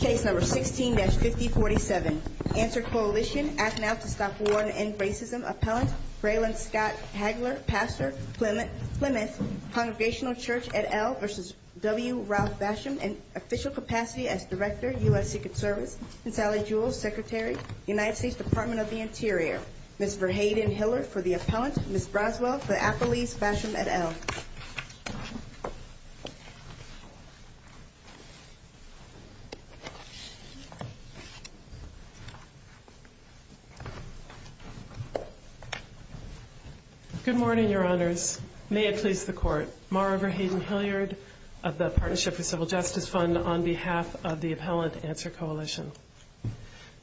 Case No. 16-5047. ANSWER Coalition. Asked to stop war and end racism. Appellant, Braylon Scott Hagler. Pastor, Plymouth Congregational Church, et al. v. W. Ross Basham. In official capacity as Director, U.S. Ticket Service. Consolidated Jewels Secretary, United States Department of the Interior. Ms. Verhagen Hiller for the appellant. Ms. Roswell for Appalachian Basham, et al. Good morning, Your Honors. May it please the Court. Mara Verhagen Hilliard of the Partnership for Civil Justice Fund on behalf of the appellant, ANSWER Coalition.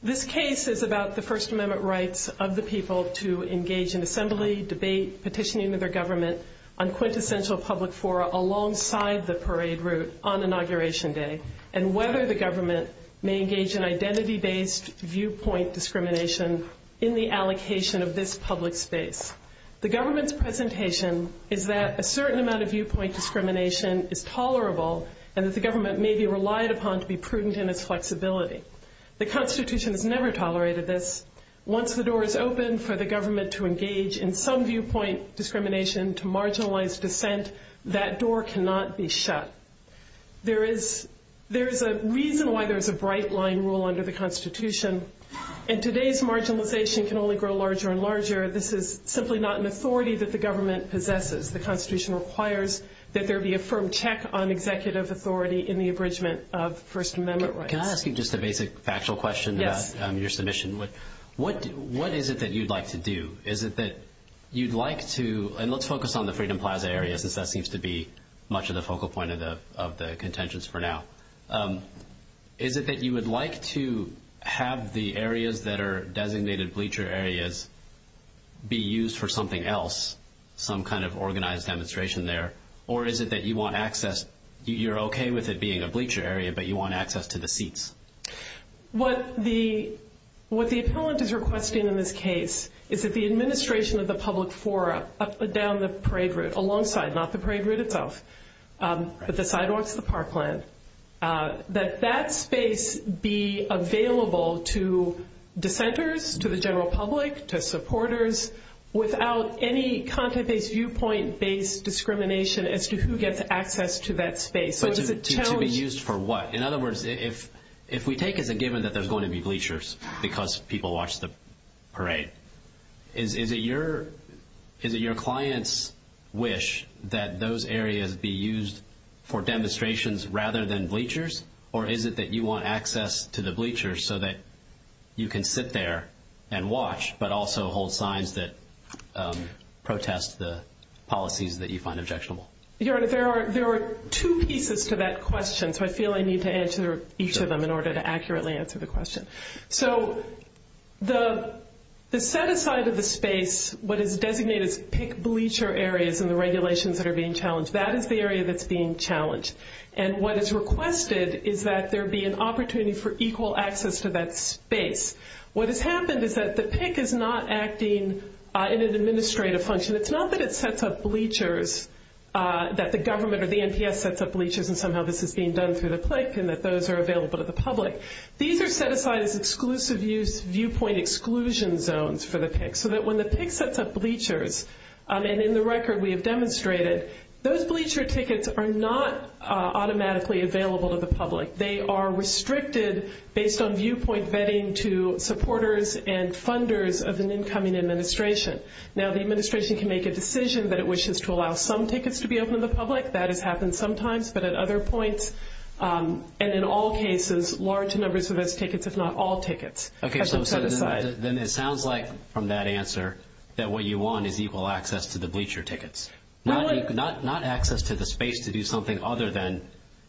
This case is about the First Amendment rights of the people to engage in assembly, debate, petitioning to their government on quintessential public fora alongside the parade route on whether the government may engage in identity-based viewpoint discrimination in the allocation of this public space. The government's presentation is that a certain amount of viewpoint discrimination is tolerable and that the government may be relied upon to be prudent in its flexibility. The Constitution has never tolerated this. Once the door is open for the government to engage in some viewpoint discrimination to marginalize dissent, that door cannot be shut. There is a reason why there's a bright line rule under the Constitution, and today's marginalization can only grow larger and larger. This is simply not an authority that the government possesses. The Constitution requires that there be a firm check on executive authority in the abridgment of First Amendment rights. Can I ask you just a basic factual question about your submission? Yes. What is it that you'd like to do? Is it that you'd like to – and let's focus on the Freedom Plaza area since that seems to be much of the focal point of the contentions for now. Is it that you would like to have the areas that are designated bleacher areas be used for something else, some kind of organized demonstration there, or is it that you want access – you're okay with it being a bleacher area, but you want access to the seats? What the appellant is requesting in this case is that the administration of the public forum down the parade route, alongside, not the parade route itself, but the sidewalks of the Parkland, that that space be available to dissenters, to the general public, to supporters, without any content-based, viewpoint-based discrimination as to who gets access to that space. So is it challenging – To be used for what? In other words, if we take as a given that there's going to be bleachers because people watch the parade, is it your clients' wish that those areas be used for demonstrations rather than bleachers, or is it that you want access to the bleachers so that you can sit there and watch, but also hold signs that protest the policies that you find objectionable? There are two pieces to that question, so I feel I need to answer each of them in order to accurately answer the question. So the set-aside of the space, what is designated as PIC bleacher areas in the regulations that are being challenged, that is the area that's being challenged, and what is requested is that there be an opportunity for equal access to that space. What has happened is that the PIC is not acting in an administrative function. It's not that it sets up bleachers, that the government or the NPS sets up bleachers, and somehow this is being done through the PIC, and that those are available to the public. These are set aside as exclusive use viewpoint exclusion zones for the PIC, so that when the PIC sets up bleachers, and in the record we have demonstrated, those bleacher tickets are not automatically available to the public. They are restricted based on viewpoint vetting to supporters and funders of an incoming administration. Now, the administration can make a decision that it wishes to allow some tickets to be open to the public. That has happened sometimes, but at other points, and in all cases, large numbers of those tickets, but not all tickets. Okay, so then it sounds like from that answer that what you want is equal access to the bleacher tickets, not access to the space to do something other than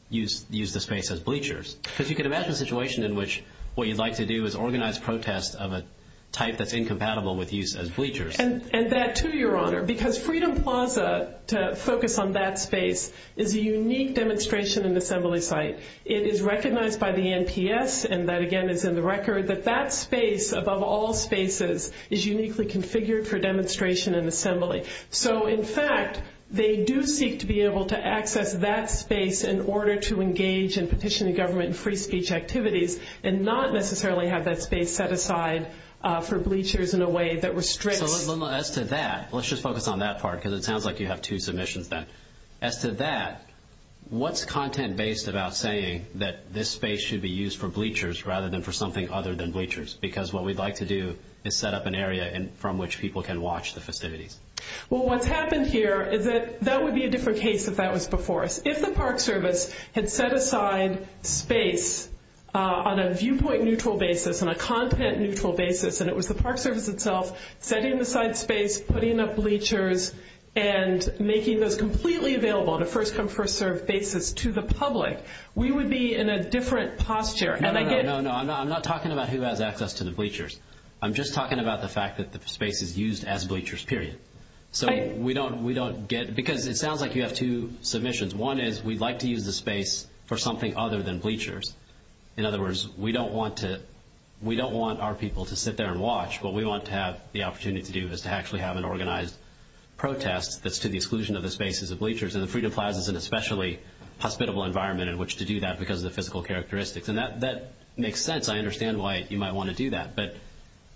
use the space as bleachers, because you can imagine a situation in which what you'd like to do is organize protests of a type that's incompatible with use as bleachers. And that, too, Your Honor, because Freedom Plaza, to focus on that space, is a unique demonstration and assembly site. It is recognized by the NPS, and that again is in the record, that that space, above all spaces, is uniquely configured for demonstration and assembly. So in fact, they do seek to be able to access that space in order to engage in petitioning government and free speech activities, and not necessarily have that space set aside for bleachers in a way that restrains. As to that, let's just focus on that part, because it sounds like you have two submissions then. As to that, what's content-based about saying that this space should be used for bleachers rather than for something other than bleachers? Because what we'd like to do is set up an area from which people can watch the facility. Well, what's happened here is that that would be a different case if that was before us. If the Park Service had set aside space on a viewpoint-neutral basis, on a content-neutral basis, and it was the Park Service itself setting aside space, putting up bleachers, and making those completely available on a first-come, first-served basis to the public, we would be in a different posture. No, no, no. I'm not talking about who has access to the bleachers. I'm just talking about the fact that the space is used as bleachers, period. So we don't get – because it sounds like you have two submissions. One is we'd like to use the space for something other than bleachers. In other words, we don't want our people to sit there and watch. What we want to have the opportunity to do is to actually have an organized protest that's to the exclusion of the space as a bleachers, and the Freedom Plaza is an especially hospitable environment in which to do that because of the physical characteristics. And that makes sense. I understand why you might want to do that. But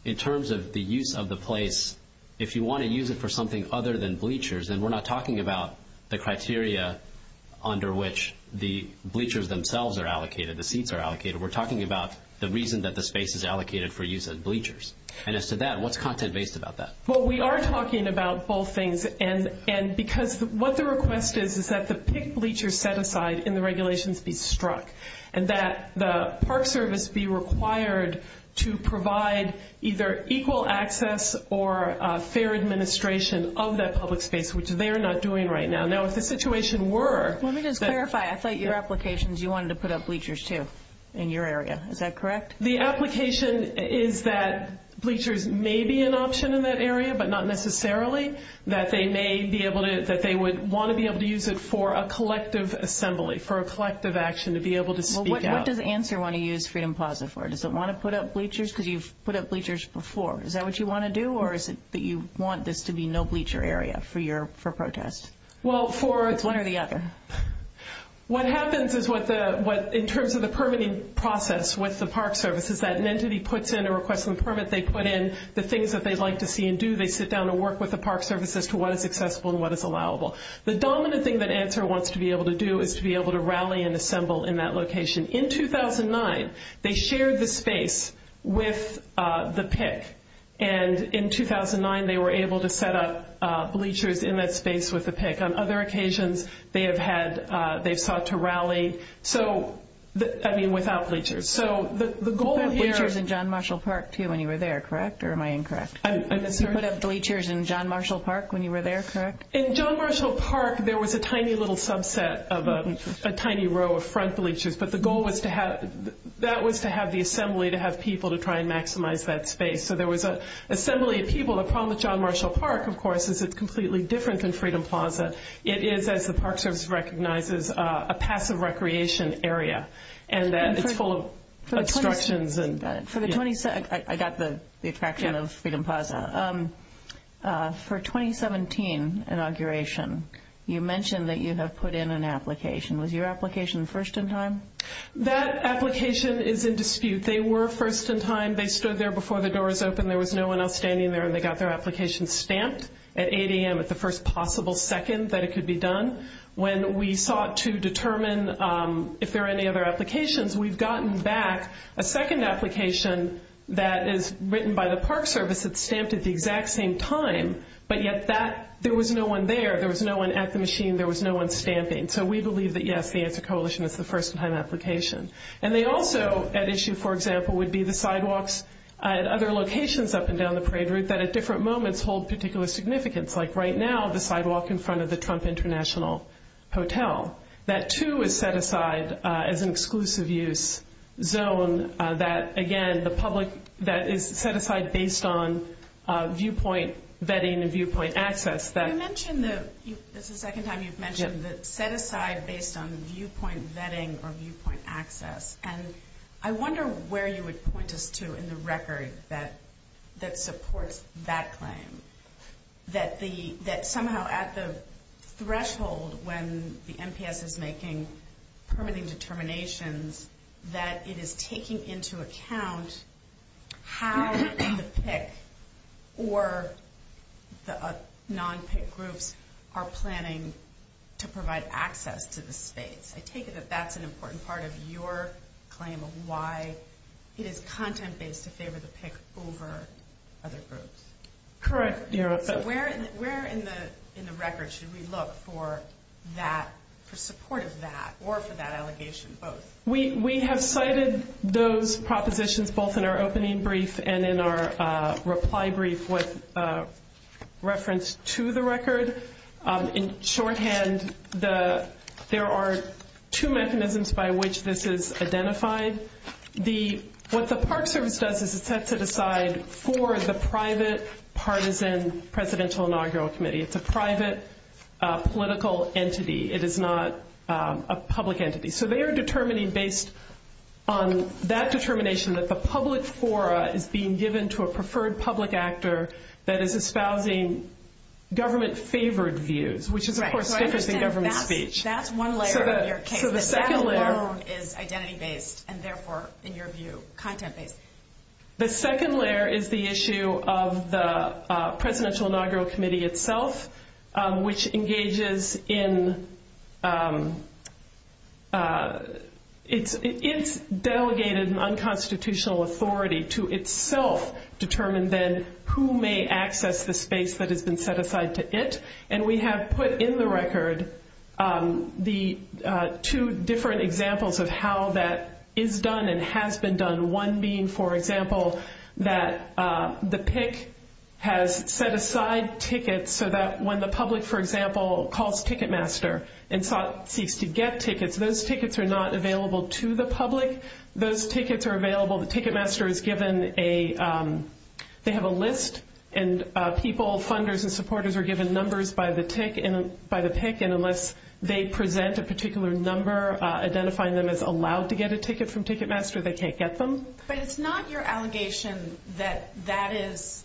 in terms of the use of the place, if you want to use it for something other than bleachers, then we're not talking about the criteria under which the bleachers themselves are allocated, the seats are allocated. We're talking about the reason that the space is allocated for use as bleachers. And as to that, what's content-based about that? Well, we are talking about both things. And because what the request is is that the picked bleachers set aside and the regulations be struck and that the Park Service be required to provide either equal access or fair administration of that public space, which they're not doing right now. Now, if the situation were – In your area, is that correct? The application is that bleachers may be an option in that area, but not necessarily, that they may be able to – that they would want to be able to use it for a collective assembly, for a collective action to be able to speak out. What does ANSWER want to use Freedom Plaza for? Does it want to put up bleachers? Did you put up bleachers before? Is that what you want to do, or is it that you want this to be no bleacher area for protests? Well, for – One or the other. What happens is what the – in terms of the permitting process with the Park Service, is that an entity puts in a request for a permit. They put in the things that they'd like to see and do. They sit down and work with the Park Service as to what is accessible and what is allowable. The dominant thing that ANSWER wants to be able to do is to be able to rally and assemble in that location. In 2009, they shared the space with the PIC. And in 2009, they were able to set up bleachers in that space with the PIC. On other occasions, they have had – they've sought to rally. So, I mean, without bleachers. So the goal here – You put up bleachers in John Marshall Park, too, when you were there, correct? Or am I incorrect? You put up bleachers in John Marshall Park when you were there, correct? In John Marshall Park, there was a tiny little subset of a tiny row of front bleachers. But the goal was to have – that was to have the assembly to have people to try and maximize that space. So there was an assembly of people. Well, the problem with John Marshall Park, of course, is it's completely different than Freedom Plaza. It is, as the Park Service recognizes, a passive recreation area. And it's full of obstructions. I got the attraction of Freedom Plaza. For 2017 inauguration, you mentioned that you have put in an application. Was your application first in time? That application is in dispute. They were first in time. They stood there before the doors opened. There was no one else standing there. And they got their application stamped at 8 a.m. at the first possible second that it could be done. When we sought to determine if there were any other applications, we've gotten back a second application that is written by the Park Service. It's stamped at the exact same time. But yet there was no one there. There was no one at the machine. There was no one stamping. So we believe that, yes, the anti-coalitionists were first in time applications. And they also at issue, for example, would be the sidewalks at other locations up and down the parade route that at different moments hold particular significance, like right now the sidewalk in front of the Trump International Hotel. That, too, is set aside as an exclusive use zone that, again, the public that is set aside based on viewpoint vetting and viewpoint access. You mentioned that this is the second time you've mentioned that set aside based on the viewpoint vetting or viewpoint access. And I wonder where you would point us to in the record that supports that claim, that somehow at the threshold when the NPS is making permanent determinations, that it is taking into account how the PIC or the non-PIC groups are planning to provide access to the state. I take it that that's an important part of your claim of why it is content-based if they were to pick over other groups. Correct. Where in the record should we look for that, for support of that or for that allegation both? We have cited those propositions both in our opening brief and in our reply brief with reference to the record. In shorthand, there are two mechanisms by which this is identified. What the Park Service does is it sets it aside for the private partisan Presidential Inaugural Committee. It's a private political entity. It is not a public entity. So they are determining based on that determination that the public fora is being given to a preferred public actor that is espousing government-favored views, which is, of course, different than government speech. That's one layer of your case. So the second layer. That alone is identity-based and, therefore, in your view, content-based. The second layer is the issue of the Presidential Inaugural Committee itself, which engages in its delegated unconstitutional authority to itself determine then who may access the space that has been set aside to it. And we have put in the record the two different examples of how that is done and has been done, one being, for example, that the PIC has set aside tickets so that when the public, for example, calls Ticketmaster and seeks to get tickets, those tickets are not available to the public. Those tickets are available. Ticketmaster is given a – they have a list, and people, funders, and supporters are given numbers by the PIC, and unless they present a particular number identifying them as allowed to get a ticket from Ticketmaster, they can't get them. But it's not your allegation that that is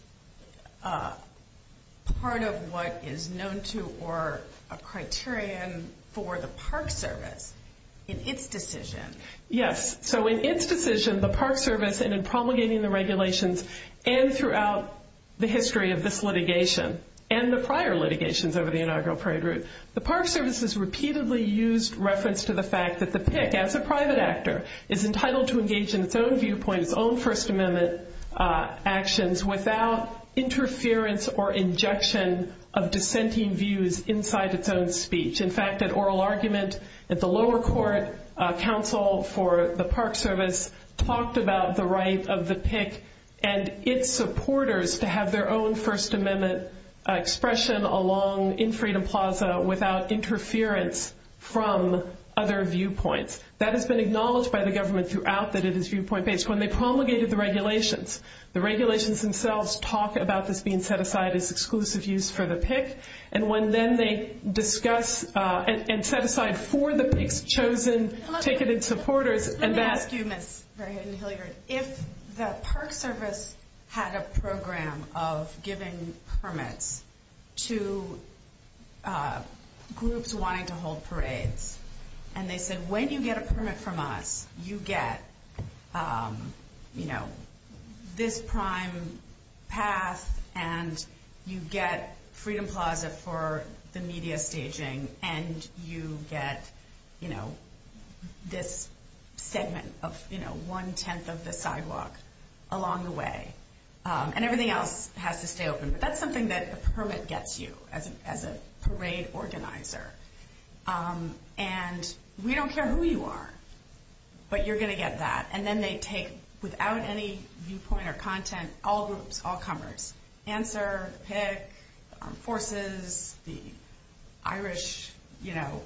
part of what is known to or a criterion for the Park Service in its decision. Yes. So in its decision, the Park Service, and in promulgating the regulations, and throughout the history of this litigation and the prior litigations over the inaugural program, the Park Service has repeatedly used reference to the fact that the PIC, as a private actor, is entitled to engage in its own viewpoint, its own First Amendment actions, without interference or injection of dissenting views inside its own speech. In fact, an oral argument at the lower court counsel for the Park Service talked about the right of the PIC and its supporters to have their own First Amendment expression along in Freedom Plaza without interference from other viewpoints. That has been acknowledged by the government throughout that it is viewpoint-based. When they promulgated the regulations, the regulations themselves talk about this being set aside as exclusive use for the PIC, and when then they discuss and set aside for the PIC's chosen, taken in supporters, and that's... Let me ask you a minute. If the Park Service had a program of giving permits to groups wanting to hold parades, and they said, when you get a permit from us, you get, you know, this prime pass, and you get Freedom Plaza for the media staging, and you get, you know, this segment of, you know, one-tenth of the sidewalks along the way, and everything else has to stay open. That's something that a permit gets you as a parade organizer. And we don't care who you are, but you're going to get that. And then they take, without any viewpoint or content, all groups, all comers. Answer, PIC, armed forces, the Irish, you know,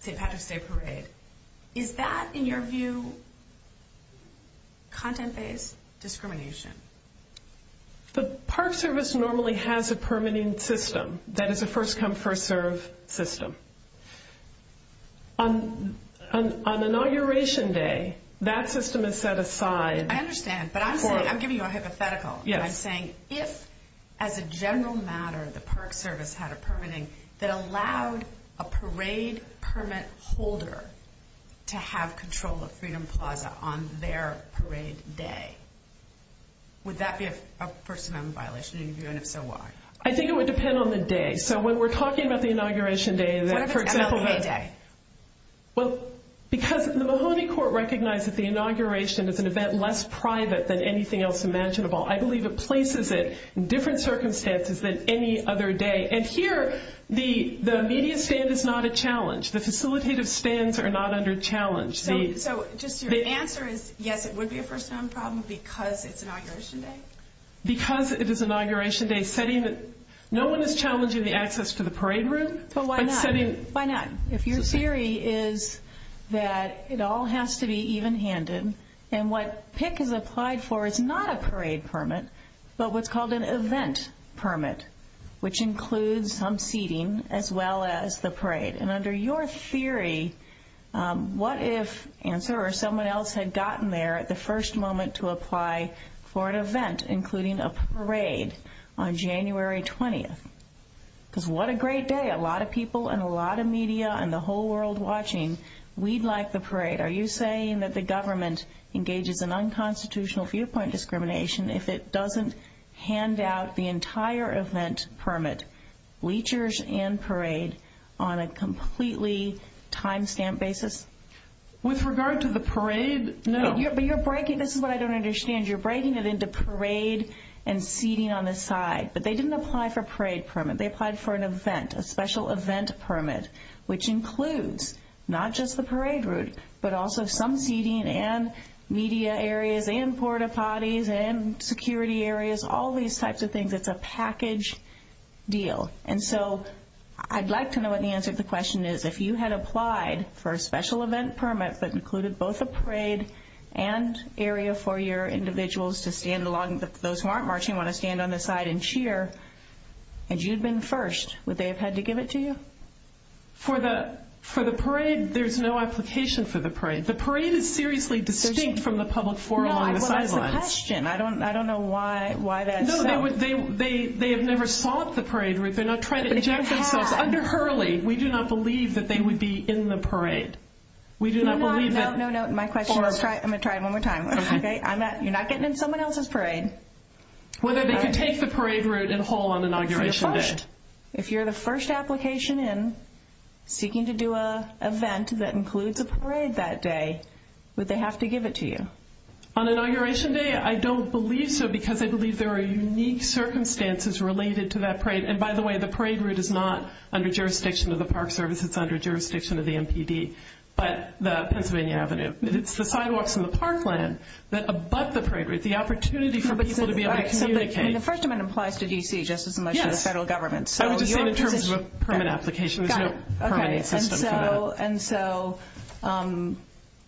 state parades. Is that, in your view, content-based discrimination? The Park Service normally has a permitting system. That is a first-come, first-served system. On Inauguration Day, that system is set aside. I understand, but I'm giving you a hypothetical. I'm saying, if, as a general matter, the Park Service had a permitting that allowed a parade permit holder to have control of Freedom Plaza on their parade day, would that be a First Amendment violation, and if so, why? I think it would depend on the day. So when we're talking about the Inauguration Day, and that, for example, Well, because the Mahoney Court recognizes the Inauguration as an event less private than anything else imaginable. I believe it places it in different circumstances than any other day. And here, the immediate stand is not a challenge. The facilitative stands are not under challenge. So the answer is, yes, it would be a first-time problem because it's Inauguration Day? Because it is Inauguration Day, no one is challenging the access to the parade room? Why not? If your theory is that it all has to be even-handed, and what PICC has applied for is not a parade permit, but what's called an event permit, which includes some seating as well as the parade. And under your theory, what if ANSA or someone else had gotten there at the first moment to apply for an event, including a parade, on January 20th? Because what a great day. A lot of people and a lot of media and the whole world watching. We'd like the parade. Are you saying that the government engages in unconstitutional viewpoint discrimination if it doesn't hand out the entire event permit, bleachers and parade, on a completely timestamp basis? With regard to the parade, no. This is what I don't understand. You're breaking it into parade and seating on the side. But they didn't apply for a parade permit. They applied for an event, a special event permit, which includes not just the parade route, but also some seating and media areas and porta potties and security areas, all these types of things. It's a package deal. And so I'd like to know what the answer to the question is. If you had applied for a special event permit that included both a parade and area for your individuals to stand along, those who aren't marching want to stand on the side and cheer, and you'd been first, would they have had to give it to you? For the parade, there's no application for the parade. The parade is seriously distinct from the public forum on the sidelines. No, that's the question. I don't know why that is. No, they have never sought the parade route. They're not trying to eject themselves. Under Hurley, we do not believe that they would be in the parade. We do not believe that. No, no, my question is, I'm going to try it one more time. You're not getting in someone else's parade. Whether they could take the parade route in whole on Inauguration Day. If you're the first application in seeking to do an event that includes a parade that day, would they have to give it to you? On Inauguration Day, I don't believe so, because I believe there are unique circumstances related to that parade. And, by the way, the parade route is not under jurisdiction of the Park Service. It's under jurisdiction of the MPD, but the Pennsylvania Avenue. It's the sidewalks in the park land that are above the parade route. It's the opportunity for people to be able to communicate. The First Amendment applies to D.C. just as much as the federal government. I was just saying in terms of a permit application. And so,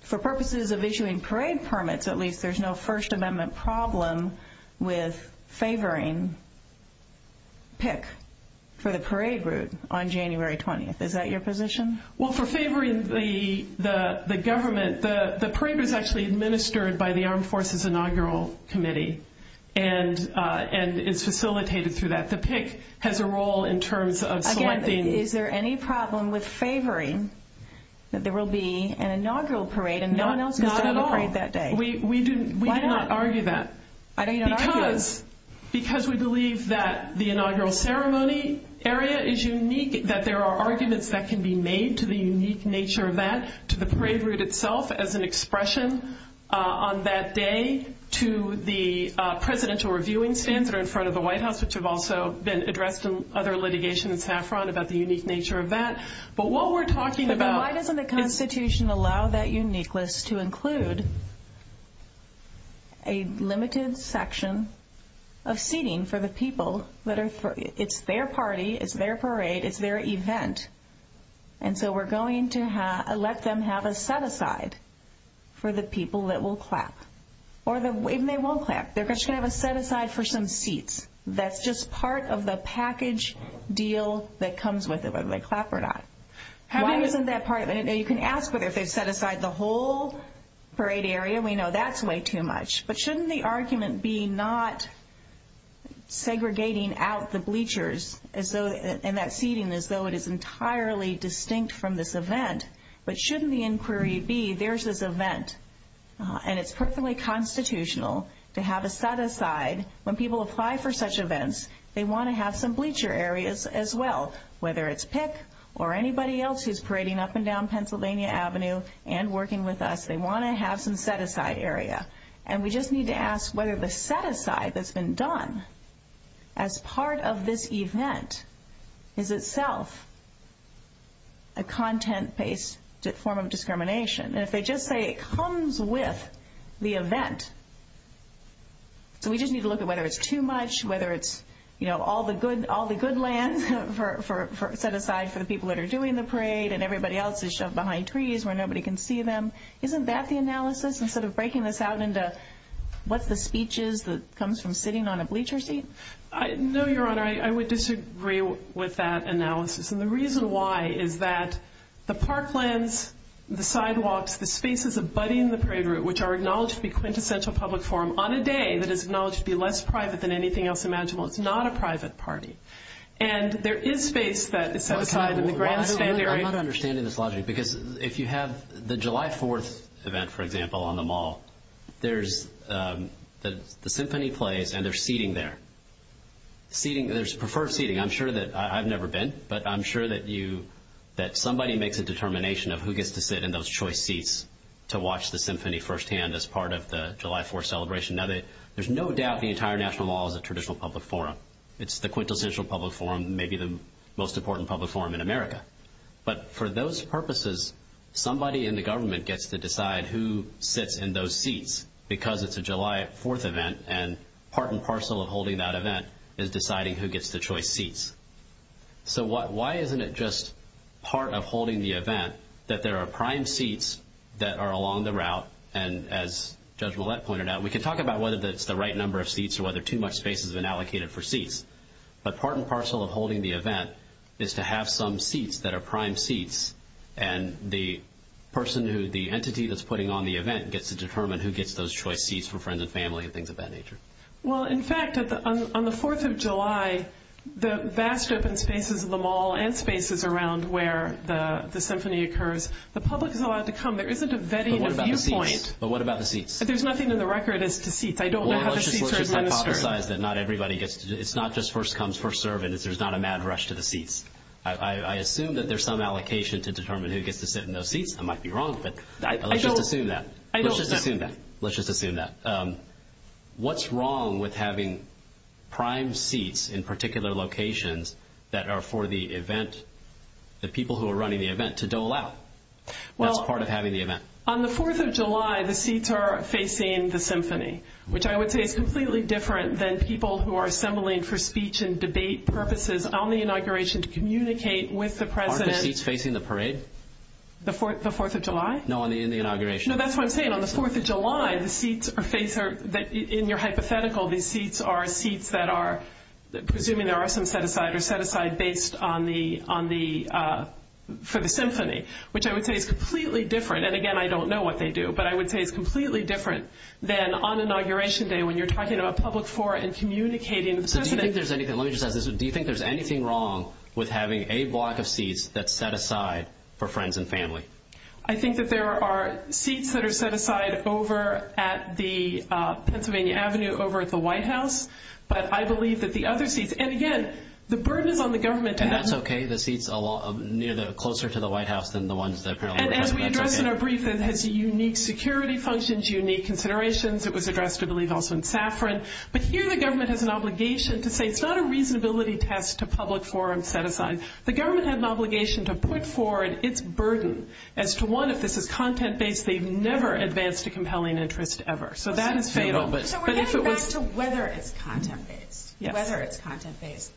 for purposes of issuing parade permits, at least, there's no First Amendment problem with favoring PIC for the parade route on January 20th. Is that your position? Well, for favoring the government, the parade route is actually administered by the Armed Forces Inaugural Committee and it's facilitated through that. The PIC has a role in terms of selecting. Again, is there any problem with favoring that there will be an inaugural parade and no one else is going to have a parade that day? Well, we do not argue that. I don't even argue it. Because we believe that the inaugural ceremony area is unique, that there are arguments that can be made to the unique nature of that, to the parade route itself as an expression on that day, to the presidential reviewing stands that are in front of the White House, which have also been addressed in other litigation in Saffron about the unique nature of that. Why doesn't the Constitution allow that uniqueness to include a limited section of seating for the people? It's their party, it's their parade, it's their event. And so we're going to let them have a set-aside for the people that will clap. Or even they won't clap. They're just going to have a set-aside for some seats. That's just part of the package deal that comes with it, whether they clap or not. Why isn't that part of it? You can ask, but if they set aside the whole parade area, we know that's way too much. But shouldn't the argument be not segregating out the bleachers and that seating as though it is entirely distinct from this event? But shouldn't the inquiry be, there's this event, and it's perfectly constitutional to have a set-aside. When people apply for such events, they want to have some bleacher areas as well, whether it's PICC or anybody else who's parading up and down Pennsylvania Avenue and working with us. They want to have some set-aside area. And we just need to ask whether the set-aside that's been done as part of this event is itself a content-based form of discrimination. And if they just say it comes with the event, then we just need to look at whether it's too much, whether it's all the good land set-aside for the people that are doing the parade and everybody else is shoved behind trees where nobody can see them. Isn't that the analysis instead of breaking this out into what the speech is that comes from sitting on a bleacher seat? No, Your Honor, I would disagree with that analysis. And the reason why is that the park lands, the sidewalks, the spaces abutting the parade route, which are acknowledged to be quintessential public form on a day that is acknowledged to be less private than anything else imaginable, it's not a private party. And there is space set-aside. I'm not understanding this logic because if you have the July 4th event, for example, on the Mall, there's the symphony plays and there's seating there. There's preferred seating. I'm sure that I've never been, but I'm sure that somebody makes a determination of who gets to sit in those choice seats to watch the symphony firsthand as part of the July 4th celebration. Now, there's no doubt the entire National Mall is a traditional public forum. It's the quintessential public forum, maybe the most important public forum in America. But for those purposes, somebody in the government gets to decide who sits in those seats because it's a July 4th event and part and parcel of holding that event is deciding who gets the choice seats. So why isn't it just part of holding the event that there are prime seats that are along the route, and as Judge Ouellette pointed out, we can talk about whether that's the right number of seats or whether too much space has been allocated for seats. But part and parcel of holding the event is to have some seats that are prime seats and the entity that's putting on the event gets to determine who gets those choice seats for friends and family and things of that nature. Well, in fact, on the 4th of July, the vast open spaces of the Mall and spaces around where the symphony occurs, the public is allowed to come. There isn't a vetting viewpoint. But what about the seats? There's nothing in the record as to seats. I don't know how the seats are distributed. Well, let's just hypothesize that not everybody gets to. It's not just first comes, first serve, and there's not a mad rush to the seats. I assume that there's some allocation to determine who gets to sit in those seats. I might be wrong, but let's just assume that. I don't assume that. Let's just assume that. What's wrong with having prime seats in particular locations that are for the event, the people who are running the event, to dole out? That's part of having the event. On the 4th of July, the seats are facing the symphony, which I would say is completely different than people who are assembling for speech and debate purposes on the inauguration to communicate with the president. Aren't the seats facing the parade? The 4th of July? No, in the inauguration. No, that's what I'm saying. On the 4th of July, the seats are facing her. In your hypothetical, these seats are seats that are, presuming there are some set-aside or set-aside based for the symphony, which I would say is completely different. And, again, I don't know what they do, but I would say it's completely different than on inauguration day when you're talking about public forum and communicating with the president. Let me just ask this. Do you think there's anything wrong with having a block of seats that's set aside for friends and family? I think that there are seats that are set aside over at the Pennsylvania Avenue, over at the White House. But I believe that the other seats, and, again, the burden on the government. That's okay. The seats closer to the White House than the ones that are currently set aside. And we addressed it in our briefing. It has unique security functions, unique considerations. It was addressed, I believe, also in Safran. But here the government has an obligation to say it's not a reasonability test to public forum set-aside. The government has an obligation to put forward its burden. As to one, if this is content-based, they've never advanced a compelling interest ever. So that is fatal. So we're getting back to whether it's content-based. Whether it's content-based.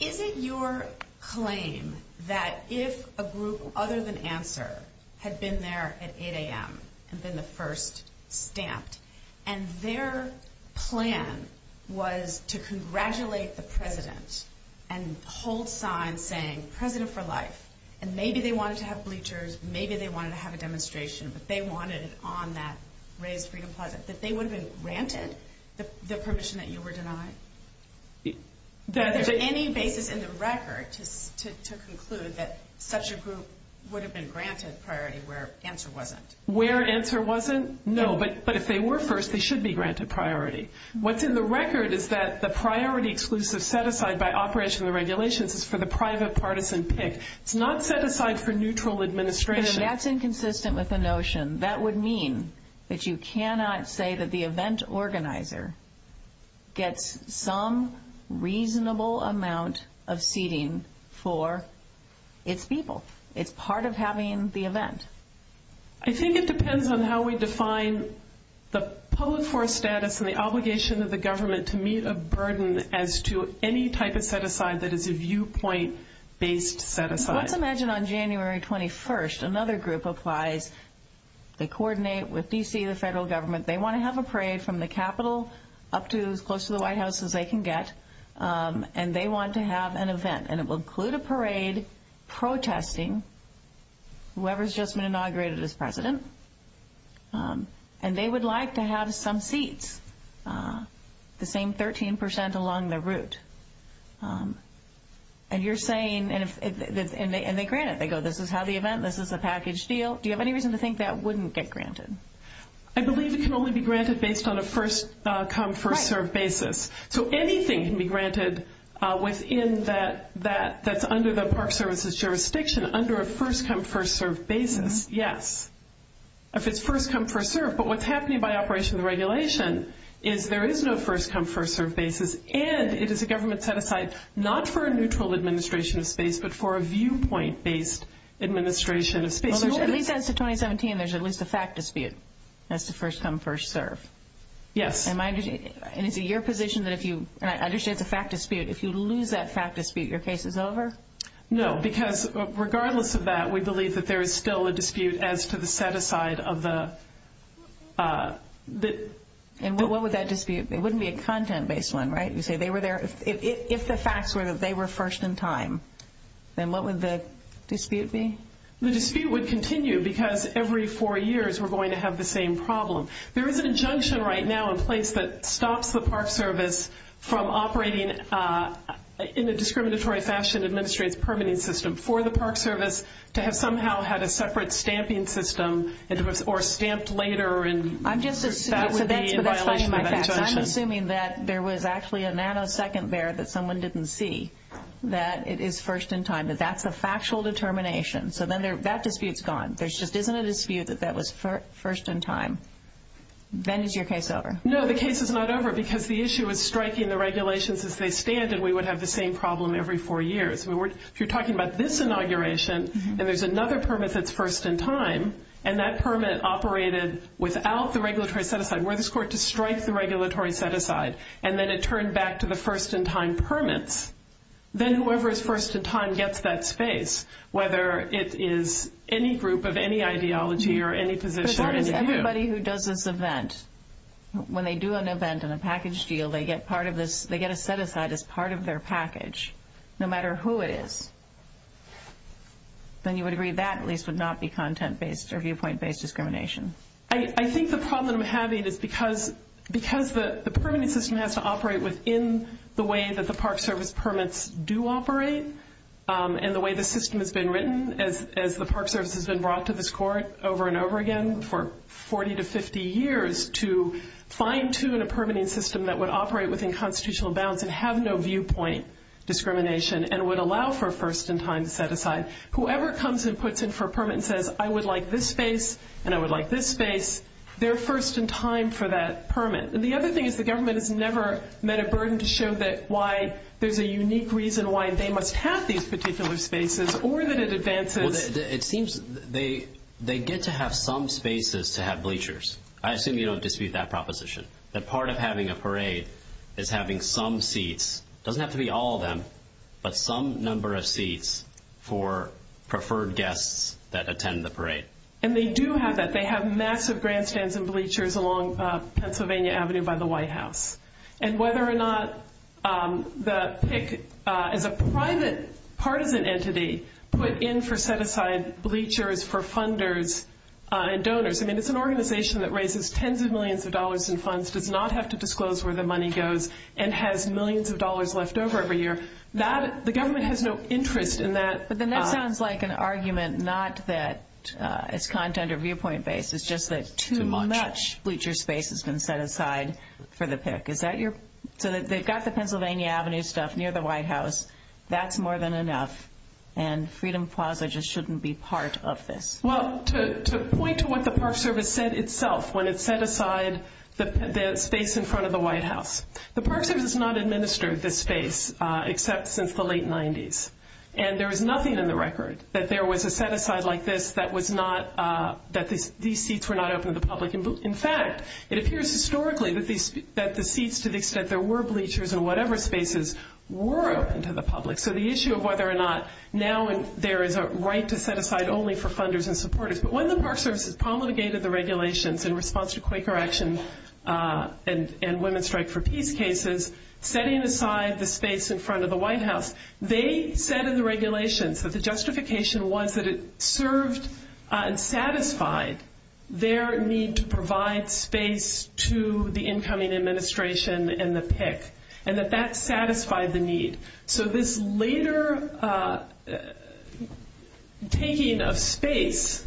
Is it your claim that if a group utters an answer had been there at 8 a.m. and been the first stamped, and their plan was to congratulate the president and the whole sign saying, President for Life, and maybe they wanted to have bleachers, maybe they wanted to have a demonstration, if they wanted on that raised freedom flag, that they would have been granted the permission that you were denied? Is there any basis in the record to conclude that such a group would have been granted priority where answer wasn't? Where answer wasn't? No. But if they were first, they should be granted priority. What's in the record is that the priority exclusive set-aside by operational regulations is for the private partisan pick. It's not set-aside for neutral administration. And that's inconsistent with the notion. That would mean that you cannot say that the event organizer gets some reasonable amount of seating for its people. It's part of having the event. I think it depends on how we define the public force status or the obligation of the government to meet a burden as to any type of set-aside that is a viewpoint-based set-aside. Let's imagine on January 21st, another group applies to coordinate with D.C., the federal government. They want to have a parade from the Capitol up to as close to the White House as they can get. And they want to have an event. And it will include a parade protesting whoever has just been inaugurated as president. And they would like to have some seats, the same 13% along the route. And you're saying, and they grant it. They go, this is how the event, this is the package deal. Do you have any reason to think that wouldn't get granted? I believe it can only be granted based on a first-come, first-served basis. So anything can be granted within that, that's under the Park Service's jurisdiction under a first-come, first-served basis, yes. If it's first-come, first-served. But what's happening by operation of the regulation is there is no first-come, first-served basis. And it is a government set-aside, not for a neutral administration of space, but for a viewpoint-based administration of space. Well, at least as of 2017, there's at least a fact dispute as to first-come, first-served. Yes. And is it your position that if you, and I understand it's a fact dispute, if you lose that fact dispute, your case is over? No, because regardless of that, we believe that there is still a dispute as to the set-aside of the... And what would that dispute be? It wouldn't be a content-based one, right? You say they were there, if the facts were that they were first in time, then what would the dispute be? The dispute would continue because every four years we're going to have the same problem. There is an injunction right now in place that stops the Park Service from operating in a discriminatory fashion to administrate the permitting system for the Park Service to have somehow had a separate stamping system or stamped later in respect to the violation of that injunction. I'm just assuming that there was actually a nanosecond there that someone didn't see that it is first in time, that that's a factual determination. So then that dispute's gone. There just isn't a dispute that that was first in time. Then is your case over? No, the case is not over because the issue is striking the regulations as they stand and we would have the same problem every four years. If you're talking about this inauguration, there is another permit that's first in time and that permit operated without the regulatory set-aside. We're the court to strike the regulatory set-aside. And then it turned back to the first-in-time permit. Then whoever is first in time gets that space, whether it is any group of any ideology or any position. Everybody who does this event, when they do an event and a package deal, they get a set-aside as part of their package, no matter who it is. Then you would agree that at least would not be content-based or viewpoint-based discrimination. I think the problem that I'm having is because the permitting system has to operate within the way that the Park Service permits do operate and the way the system has been written as the Park Service has been brought to the court over and over again for 40 to 50 years to fine-tune a permitting system that would operate within constitutional bounds and have no viewpoint discrimination and would allow for a first-in-time set-aside. Whoever comes and puts in for a permit and says, I would like this space and I would like this space, they're first in time for that permit. The other thing is the government has never met a burden to show why there's a unique reason why they must have these particular spaces or that it advances. It seems they get to have some spaces to have bleachers. I assume you don't dispute that proposition, that part of having a parade is having some seats. It doesn't have to be all of them, but some number of seats for preferred guests that attend the parade. And they do have that. They have massive grandstands and bleachers along Pennsylvania Avenue by the White House. And whether or not the PICC, as a private part of an entity, put in for set-aside bleachers for funders and donors, I mean it's an organization that raises tens of millions of dollars in funds, does not have to disclose where the money goes, and has millions of dollars left over every year. The government has no interest in that. But then that sounds like an argument not that it's content or viewpoint-based. It's just that too much bleacher space has been set aside for the PICC. So they've got the Pennsylvania Avenue stuff near the White House. That's more than enough. And Freedom Plaza just shouldn't be part of this. Well, to point to what the Park Service said itself when it set aside the space in front of the White House, the Park Service has not administered this space except since the late 90s. And there is nothing on the record that there was a set-aside like this that these seats were not open to the public. In fact, it appears historically that the seats to the extent there were bleachers in whatever spaces were open to the public. So the issue of whether or not now there is a right to set-aside only for funders and supporters. But when the Park Service has promulgated the regulations in response to Quaker actions and women's strike for peace cases, setting aside the space in front of the White House, they said in the regulations that the justification was that it served and satisfied their need to provide space to the incoming administration and the PICC and that that satisfied the need. So this later taking of space,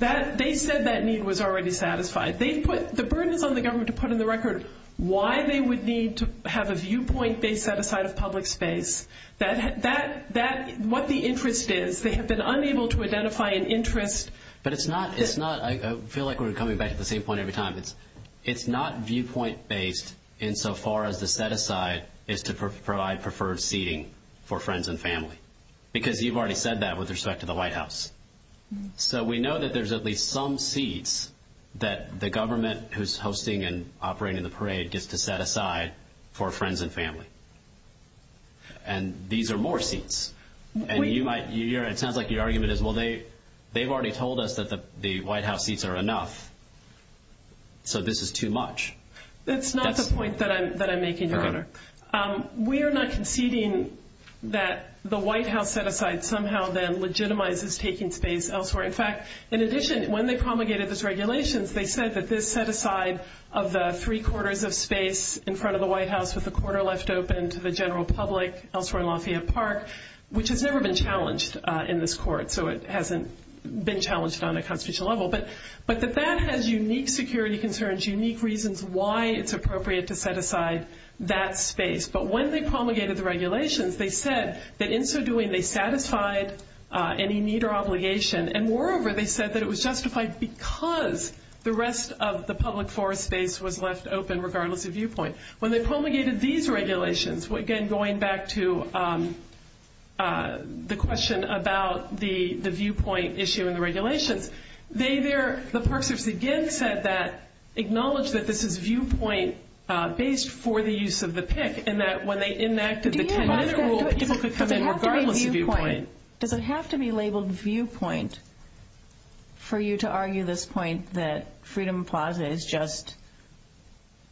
they said that need was already satisfied. The burden is on the government to put on the record why they would need to have a viewpoint-based set-aside of public space. That's what the interest is. They have been unable to identify an interest. But it's not – I feel like we're coming back to the same point every time. It's not viewpoint-based insofar as the set-aside is to provide preferred seating for friends and family, because you've already said that with respect to the White House. So we know that there's at least some seats that the government who's hosting and operating the parade gets to set aside for friends and family. And these are more seats. And you might – it sounds like your argument is, well, they've already told us that the White House seats are enough, so this is too much. We are not conceding that the White House set-aside somehow then legitimizes taking space elsewhere. In fact, in addition, when they promulgated this regulation, they said that this set-aside of the three-quarters of space in front of the White House with a quarter left open to the general public elsewhere in Lafayette Park, which has never been challenged in this court. So it hasn't been challenged on a constitutional level. But the fact has unique security concerns, unique reasons why it's appropriate to set aside that space. But when they promulgated the regulations, they said that in so doing they satisfied any need or obligation. And moreover, they said that it was justified because the rest of the public forest space was left open, regardless of viewpoint. When they promulgated these regulations, again, going back to the question about the viewpoint issue in the regulations, they there, the folks who said that acknowledged that this is viewpoint based for the use of the pick and that when they enacted the commitment rule, people could come in regardless of viewpoint. Does it have to be labeled viewpoint for you to argue this point that Freedom Plaza is just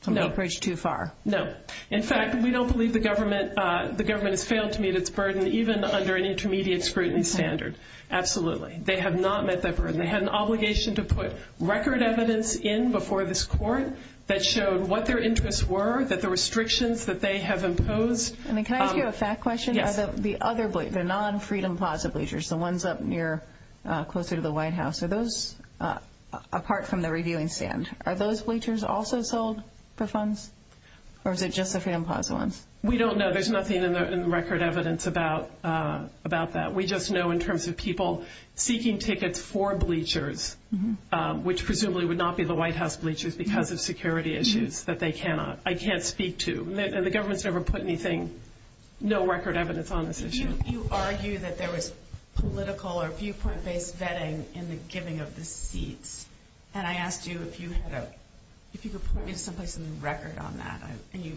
a bridge too far? No. In fact, we don't believe the government has failed to meet its burden, even under an intermediate scrutiny standard. Absolutely. They have not met that burden. They had an obligation to put record evidence in before this court that showed what their interests were, that the restrictions that they have imposed. Can I ask you a fact question? Yes. The other, the non-Freedom Plaza bleachers, the ones up near, closer to the White House, are those apart from the reviewing stand, are those bleachers also sold for funds? Or is it just the Freedom Plaza ones? We don't know. There's nothing in the record evidence about that. We just know in terms of people seeking tickets for bleachers, which presumably would not be the White House bleachers because of security issues, that they cannot, I can't speak to. The government's never put anything, no record evidence on this issue. You argue that there was political or viewpoint based vetting in the giving of receipts. And I asked you if you could put instantly some record on that. And you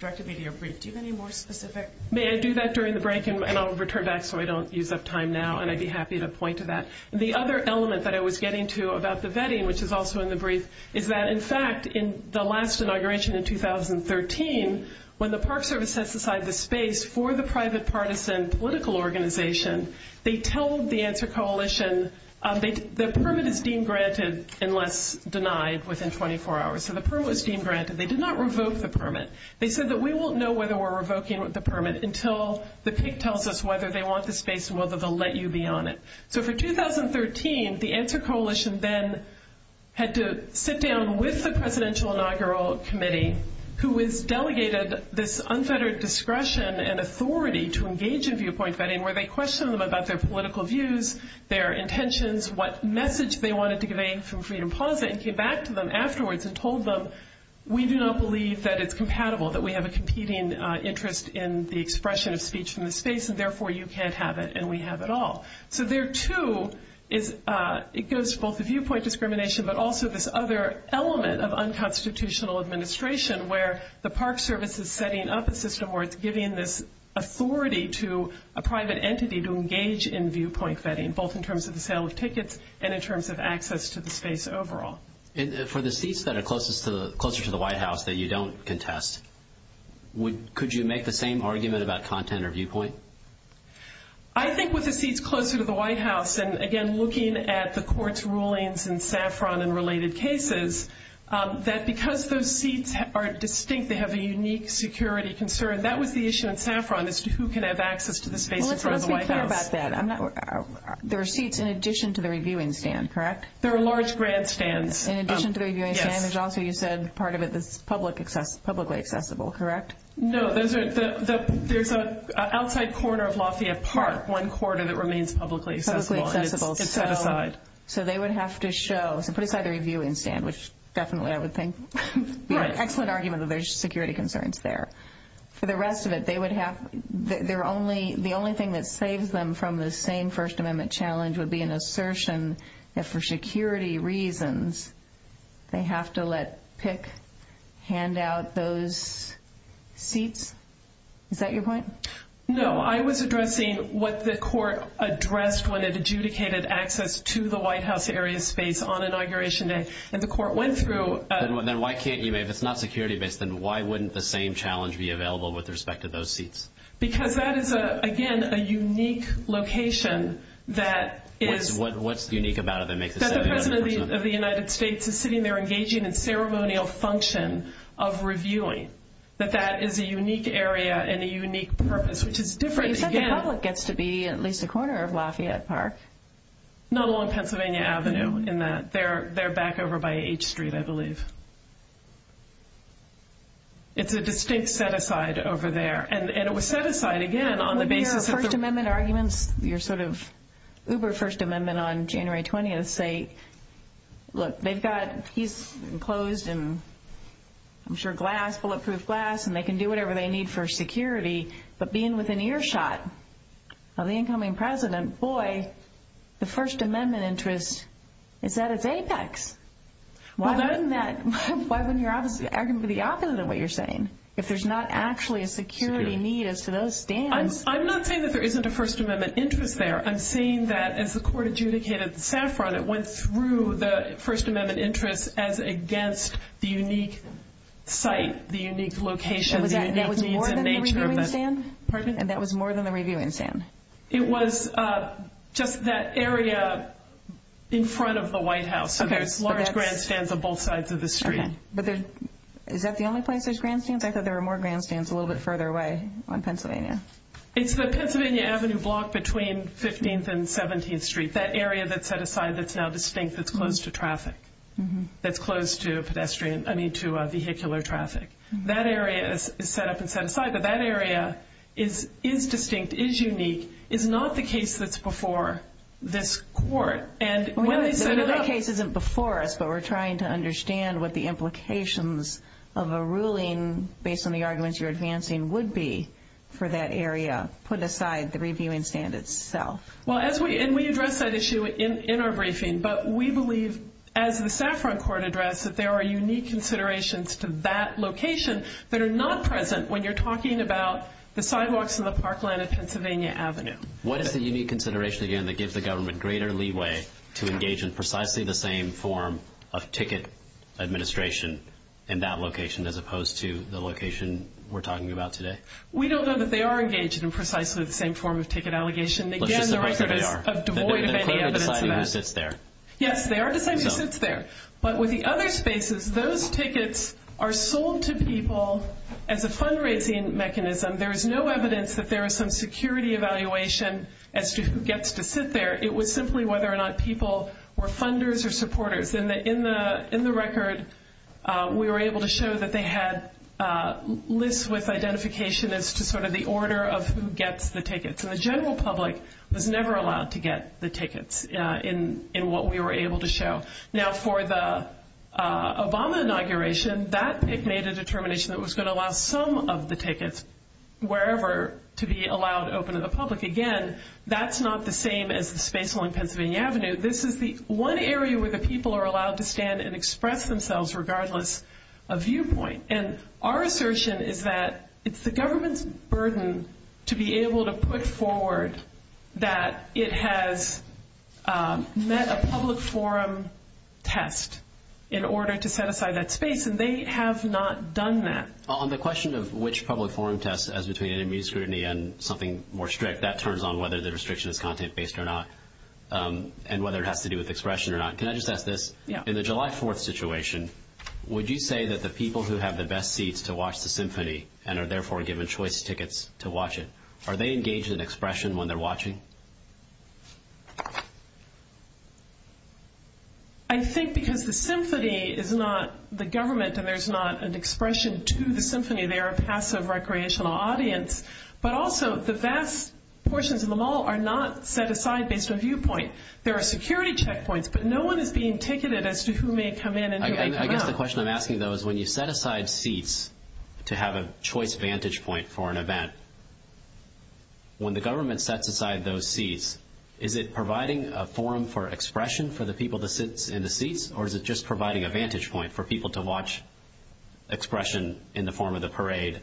directed me to your brief. Do you have any more specific? May I do that during the break? And I'll return back so I don't use up time now. And I'd be happy to point to that. The other element that I was getting to about the vetting, which is also in the brief, is that, in fact, in the last inauguration in 2013, when the Park Service set aside the space for the private partisan political organization, they told the answer coalition the permit is deemed granted unless denied within 24 hours. So the permit is deemed granted. They did not revoke the permit. They said that we won't know whether we're revoking the permit until the state tells us whether they want the space and whether they'll let you be on it. So for 2013, the answer coalition then had to sit down with the presidential inaugural committee, who has delegated this unfettered discretion and authority to engage in viewpoint vetting, where they questioned them about their political views, their intentions, what message they wanted to convey from Freedom Plaza, and came back to them afterwards and told them we do not believe that it's compatible, that we have a competing interest in the expression of speech from the space, and therefore you can't have it and we have it all. So there, too, is both a viewpoint discrimination but also this other element of unconstitutional administration where the Park Service is setting up a system where it's giving this authority to a private entity to engage in viewpoint vetting, both in terms of the sale of tickets and in terms of access to the space overall. And for the seats that are closer to the White House that you don't contest, could you make the same argument about content or viewpoint? I think with the seats closer to the White House and, again, looking at the court's rulings in Saffron and related cases, that because those seats are distinct, they have a unique security concern, that was the issue in Saffron as to who can have access to the space in front of the White House. I'm not sure about that. There are seats in addition to the reviewing stand, correct? There are large grandstands. In addition to the reviewing stand, there's also, you said, part of it that's publicly accessible, correct? No. There's an outside corner of Lafayette Park, one corner that remains publicly accessible. Publicly accessible. So they would have to show. So put aside the reviewing stand, which definitely I would think would be an excellent argument that there's security concerns there. For the rest of it, the only thing that saves them from the same First Amendment challenge would be an assertion that for security reasons, they have to let PICC hand out those seats. Is that your point? No. I was addressing what the court addressed when it adjudicated access to the White House area space on Inauguration Day. And the court went through. Then why can't you, if it's not security-based, then why wouldn't the same challenge be available with respect to those seats? Because that is, again, a unique location that is. What's unique about it that makes it unique? That the President of the United States is sitting there engaging in ceremonial function of reviewing. That that is a unique area and a unique purpose, which is different. The public gets to be at least a corner of Lafayette Park. Not along Pennsylvania Avenue in that. They're back over by H Street, I believe. It's a distinct set-aside over there. And it was set-aside, again, on the basis of- Your First Amendment arguments, your sort of uber First Amendment on January 20th say, look, they've got keys enclosed in, I'm sure, glass, bulletproof glass, and they can do whatever they need for security. But being within earshot of the incoming President, boy, the First Amendment interest, it's at its apex. Why isn't your argument for the opposite of what you're saying? If there's not actually a security need as to those stands- I'm not saying that there isn't a First Amendment interest there. I'm saying that, as the court adjudicated in Sanford, it went through the First Amendment interest as against the unique site, the unique location- That was more than a reviewing stand? Pardon me? That was more than a reviewing stand. It was just that area in front of the White House. Okay. There's large grandstands on both sides of the street. Okay. Is that the only place there's grandstands? I thought there were more grandstands a little bit further away on Pennsylvania. It's the Pennsylvania Avenue block between 15th and 17th Street. That area that's set-aside that's now distinct is closed to traffic, that's closed to vehicular traffic. That area is set-up and set-aside, but that area is distinct, is unique, is not the case that's before this court. The case isn't before us, but we're trying to understand what the implications of a ruling, based on the arguments you're advancing, would be for that area, put aside the reviewing stand itself. We addressed that issue in our briefing, but we believe, as the Saffron Court addressed, that there are unique considerations to that location that are not present when you're talking about the sidewalks in the parkland of Pennsylvania Avenue. What is the unique consideration, again, that gives the government greater leeway to engage in precisely the same form of ticket administration in that location, as opposed to the location we're talking about today? We don't know that they are engaged in precisely the same form of ticket allegation. Again, the record is of Des Moines and Pennsylvania Avenue. Yes, they are the same as it's there. But with the other spaces, those tickets are sold to people as a fundraising mechanism. There is no evidence that there is some security evaluation as to who gets to sit there. It was simply whether or not people were funders or supporters. In the record, we were able to show that they had lists with identification as to sort of the order of who gets the tickets. And the general public was never allowed to get the tickets, in what we were able to show. Now, for the Obama inauguration, that made a determination that was going to allow some of the tickets, wherever, to be allowed open to the public. Again, that's not the same as the space on Pennsylvania Avenue. This is the one area where the people are allowed to stand and express themselves, regardless of viewpoint. And our assertion is that it's the government's burden to be able to put forward that it has met a public forum test in order to set aside that space, and they have not done that. On the question of which public forum test, as between an immune scrutiny and something more strict, that turns on whether the restriction is content-based or not, and whether it has to do with expression or not. Can I just ask this? Yeah. In the July 4th situation, would you say that the people who have the best seats to watch the symphony and are therefore given choice tickets to watch it, are they engaged in expression when they're watching? I think because the symphony is not the government, and there's not an expression to the symphony. They are a passive recreational audience. But also the vast portions of the mall are not set aside based on viewpoint. There are security checkpoints, but no one is being ticketed as to who may come in and who may come out. I guess the question I'm asking, though, is when you set aside seats to have a choice vantage point for an event, when the government sets aside those seats, is it providing a forum for expression for the people that sit in the seats, or is it just providing a vantage point for people to watch expression in the form of the parade?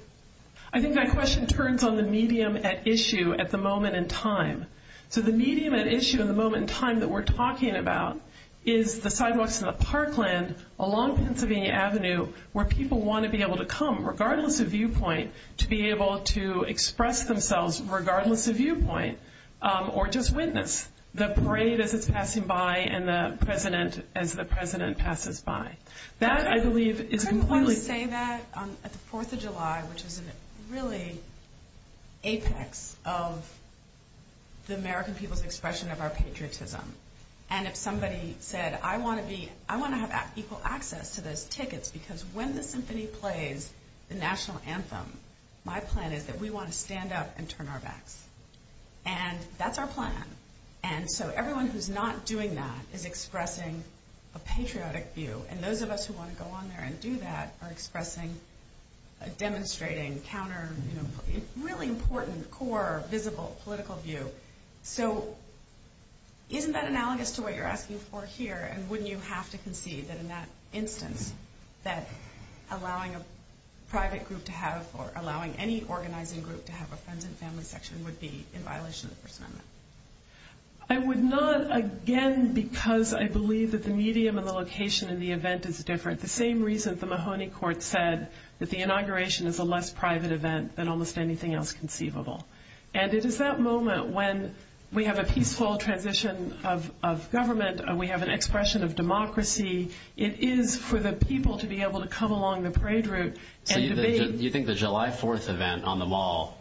I think that question turns on the medium at issue at the moment in time. So the medium at issue at the moment in time that we're talking about is the sidewalks and the parkland along Pennsylvania Avenue where people want to be able to come, regardless of viewpoint, to be able to express themselves regardless of viewpoint or just witness the parade as it's passing by and the president as the president passes by. That, I believe, is important. I'm going to say that on the Fourth of July, which is really apex of the American people's expression of our patriotism. And if somebody said, I want to have equal access to the tickets, it's because when the symphony plays the national anthem, my plan is that we want to stand up and turn our backs. And that's our plan. And so everyone who's not doing that is expressing a patriotic view. And those of us who want to go on there and do that are expressing, demonstrating, counter, really important, core, visible political view. So isn't that analogous to what you're asking for here? And wouldn't you have to concede that in that instance, that allowing a private group to have, or allowing any organizing group to have a friends and family section would be in violation of the First Amendment? I would not, again, because I believe that the medium and the location of the event is different. The same reason the Mahoney Court said that the inauguration is a less private event than almost anything else conceivable. And it is that moment when we have a peaceful transition of government and we have an expression of democracy. It is for the people to be able to come along the parade route and debate. Do you think the July 4th event on the Mall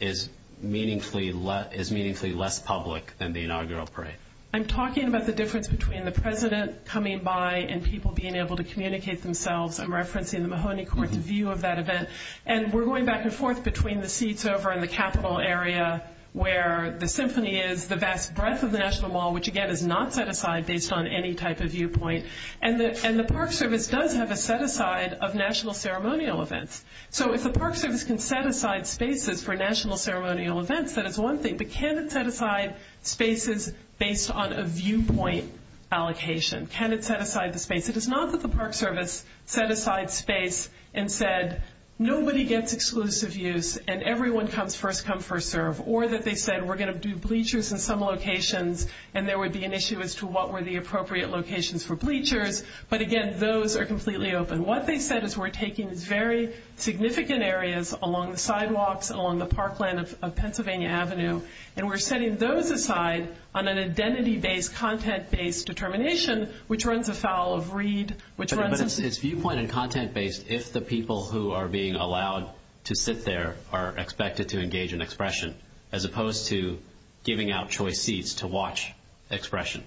is meaningfully less public than the inaugural parade? I'm talking about the difference between the president coming by and people being able to communicate themselves. I'm referencing the Mahoney Court's view of that event. And we're going back and forth between the seats over in the Capitol area where the symphony is, the vast breadth of the National Mall, which, again, is not set aside based on any type of viewpoint. And the Park Service does have a set aside of national ceremonial events. So if the Park Service can set aside spaces for national ceremonial events, that is one thing. But can it set aside spaces based on a viewpoint allocation? Can it set aside the space? It is not that the Park Service set aside space and said, nobody gets exclusive use and everyone comes first come, first serve, or that they said we're going to do bleachers in some locations and there would be an issue as to what were the appropriate locations for bleachers. But, again, those are completely open. What they said is we're taking very significant areas along the sidewalks, along the parkland of Pennsylvania Avenue, and we're setting those aside on an identity-based, content-based determination, which runs afoul of Reed. But it's viewpoint and content-based if the people who are being allowed to sit there are expected to engage in expression, as opposed to giving out choice seats to watch expression.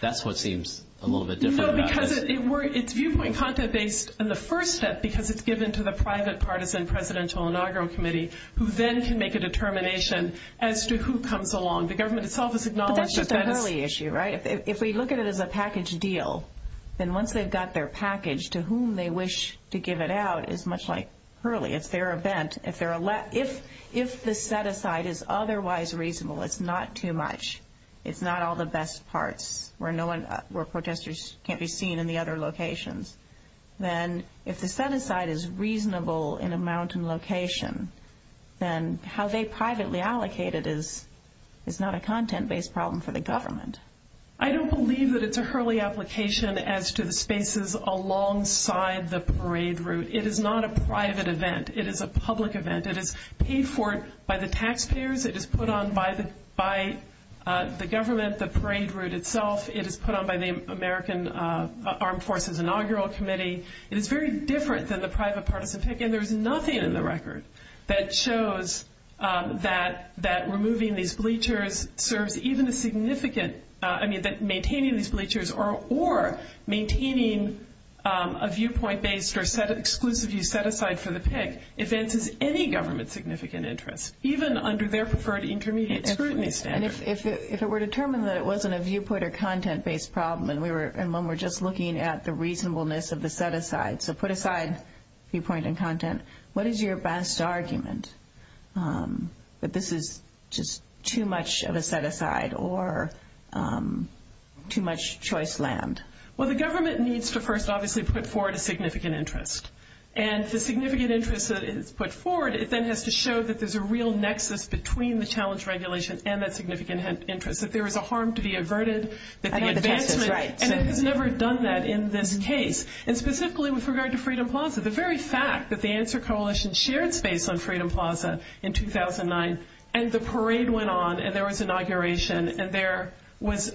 That's what seems a little bit different about this. No, because it's viewpoint and content-based in the first step because it's given to the private, partisan Presidential Inaugural Committee who then can make a determination as to who comes along. The government itself has acknowledged that that is. That's just an early issue, right? If we look at it as a package deal, then once they've got their package, to whom they wish to give it out is much like Hurley. It's their event. If the set-aside is otherwise reasonable, it's not too much, it's not all the best parts where protestors can't be seen in the other locations, then if the set-aside is reasonable in a mountain location, then how they privately allocate it is not a content-based problem for the government. I don't believe that it's a Hurley application as to the spaces alongside the parade route. It is not a private event. It is a public event. It is paid for by the taxpayers. It is put on by the government, the parade route itself. It is put on by the American Armed Forces Inaugural Committee. It is very different than the private, partisan take. And there is nothing in the record that shows that removing these bleachers serves even a significant, I mean maintaining these bleachers or maintaining a viewpoint-based or set-exclusive set-aside for the pig advances any government's significant interest, even under their preferred intermediate standards. If it were determined that it wasn't a viewpoint or content-based problem and when we're just looking at the reasonableness of the set-aside, so put aside viewpoint and content, what is your best argument that this is just too much of a set-aside or too much choice land? Well, the government needs to first obviously put forward a significant interest. And the significant interest that is put forward, it then has to show that there's a real nexus between the challenge regulation and that significant interest, that there is a harm to be averted. And it's never done that in this case. And specifically with regard to Freedom Plaza, the very fact that the Answer Coalition shared space on Freedom Plaza in 2009 and the parade went on and there was inauguration and there was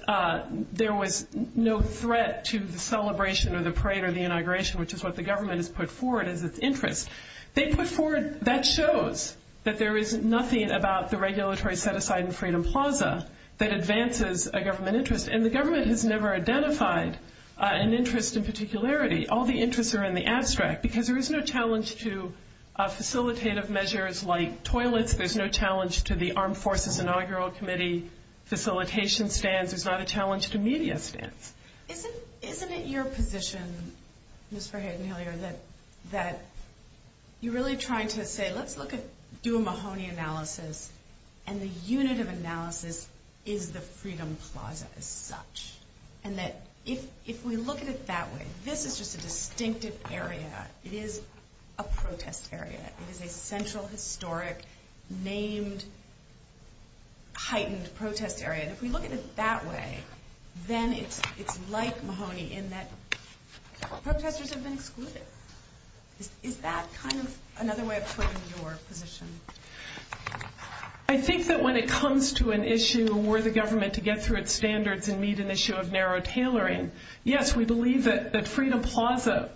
no threat to the celebration or the parade or the inauguration, which is what the government has put forward as its interest, that shows that there is nothing about the regulatory set-aside in Freedom Plaza that advances a government interest. And the government has never identified an interest in particularity. All the interests are in the abstract, because there is no challenge to facilitative measures like toilets. There's no challenge to the Armed Forces Inaugural Committee facilitation stance. There's not a challenge to media stance. Isn't it your position, Ms. Forhead and Hillary, that you're really trying to say let's do a Mahoney analysis and the unit of analysis is the Freedom Plaza as such? And that if we look at it that way, this is just a distinctive area. It is a protest area. It is a central, historic, named, heightened protest area. If we look at it that way, then it's like Mahoney in that protesters have been excluded. Is that kind of another way of putting your position? I think that when it comes to an issue where the government to get through its standards and meet an issue of narrow tailoring, yes, we believe that Freedom Plaza,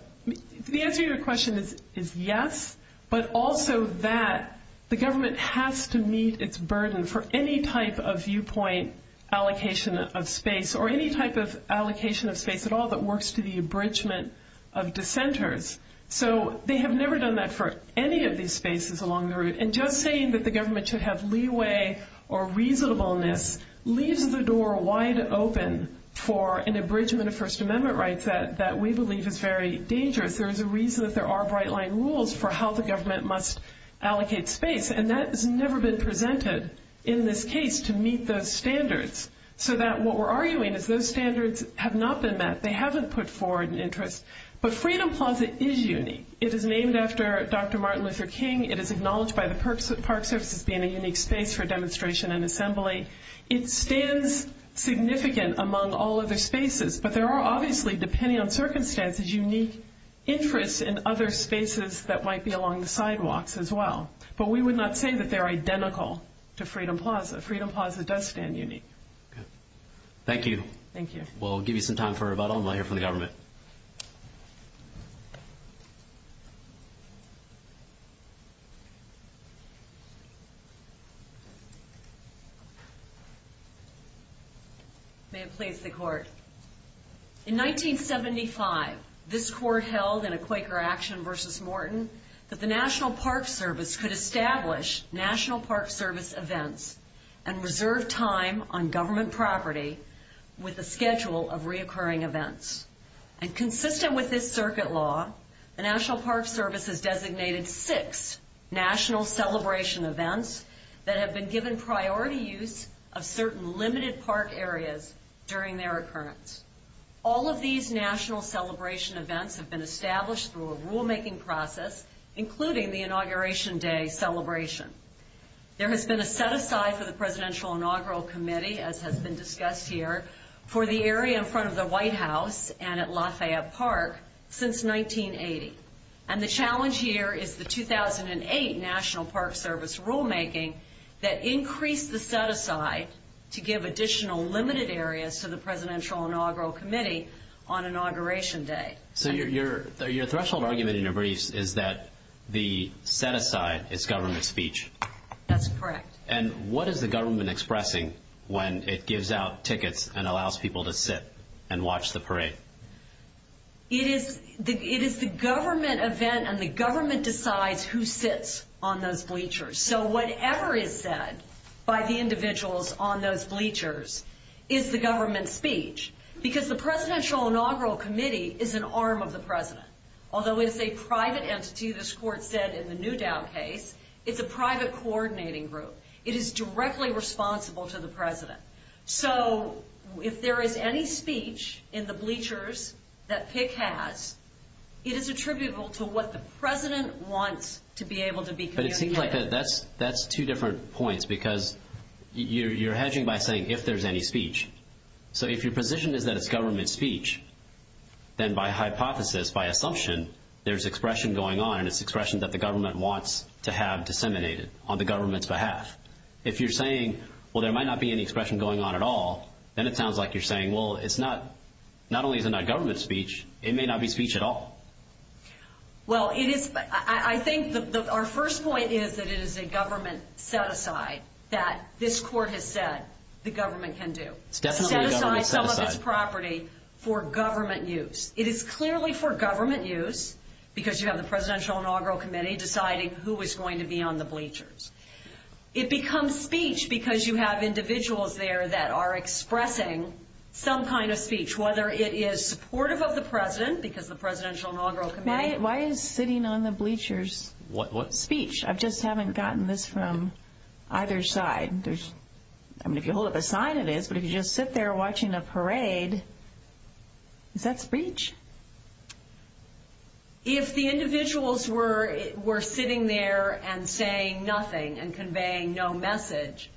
the answer to your question is yes, but also that the government has to meet its burden for any type of viewpoint allocation of space or any type of allocation of space at all that works to the abridgment of dissenters. So they have never done that for any of these spaces along the route. And just saying that the government should have leeway or reasonableness leaves the door wide open for an abridgment of First Amendment rights that we believe is very dangerous. There is a reason that there are bright-line rules for how the government must allocate space, and that has never been presented in this case to meet those standards. So what we're arguing is those standards have not been met. They haven't put forward an interest. But Freedom Plaza is unique. It is named after Dr. Martin Luther King. It is acknowledged by the Park Service as being a unique space for demonstration and assembly. It stands significant among all other spaces, but there are obviously depending on circumstances unique interests in other spaces that might be along the sidewalks as well. But we would not say that they're identical to Freedom Plaza. Freedom Plaza does stand unique. Thank you. Thank you. We'll give you some time for rebuttal and we'll hear from the government. May it please the Court. In 1975, this Court held in a Quaker action versus Morton that the National Park Service could establish National Park Service events and reserve time on government property with a schedule of reoccurring events. And consistent with this circuit law, the National Park Service has designated six National Celebration events that have been given priority use of certain limited park areas during their occurrence. All of these National Celebration events have been established through a rulemaking process, including the Inauguration Day celebration. There has been a set-aside for the Presidential Inaugural Committee, as has been discussed here, for the area in front of the White House and at Lafayette Park since 1980. And the challenge here is the 2008 National Park Service rulemaking that increased the set-aside to give additional limited areas to the Presidential Inaugural Committee on Inauguration Day. So your threshold argument in your briefs is that the set-aside is government speech. That's correct. And what is the government expressing when it gives out tickets and allows people to sit and watch the parade? It is the government event and the government decides who sits on those bleachers. So whatever is said by the individuals on those bleachers is the government speech because the Presidential Inaugural Committee is an arm of the President. Although it's a private entity, this court said in the Newdown case, it's a private coordinating group. It is directly responsible to the President. So if there is any speech in the bleachers that Tick has, it is attributable to what the President wants to be able to be communicated. But it seems like that's two different points because you're hedging by saying if there's any speech. So if your position is that it's government speech, then by hypothesis, by assumption, there's expression going on and it's expression that the government wants to have disseminated on the government's behalf. If you're saying, well, there might not be any expression going on at all, then it sounds like you're saying, well, not only is it not government speech, it may not be speech at all. Well, I think our first point is that it is a government set-aside that this court has said the government can do. It's definitely a government set-aside. It's a set-aside public property for government use. It is clearly for government use because you have the Presidential Inaugural Committee deciding who is going to be on the bleachers. It becomes speech because you have individuals there that are expressing some kind of speech, whether it is supportive of the President because the Presidential Inaugural Committee Why is sitting on the bleachers speech? I just haven't gotten this from either side. I mean, if you hold it beside it is, but if you just sit there watching the parade, is that speech? If the individuals were sitting there and saying nothing and conveying no message,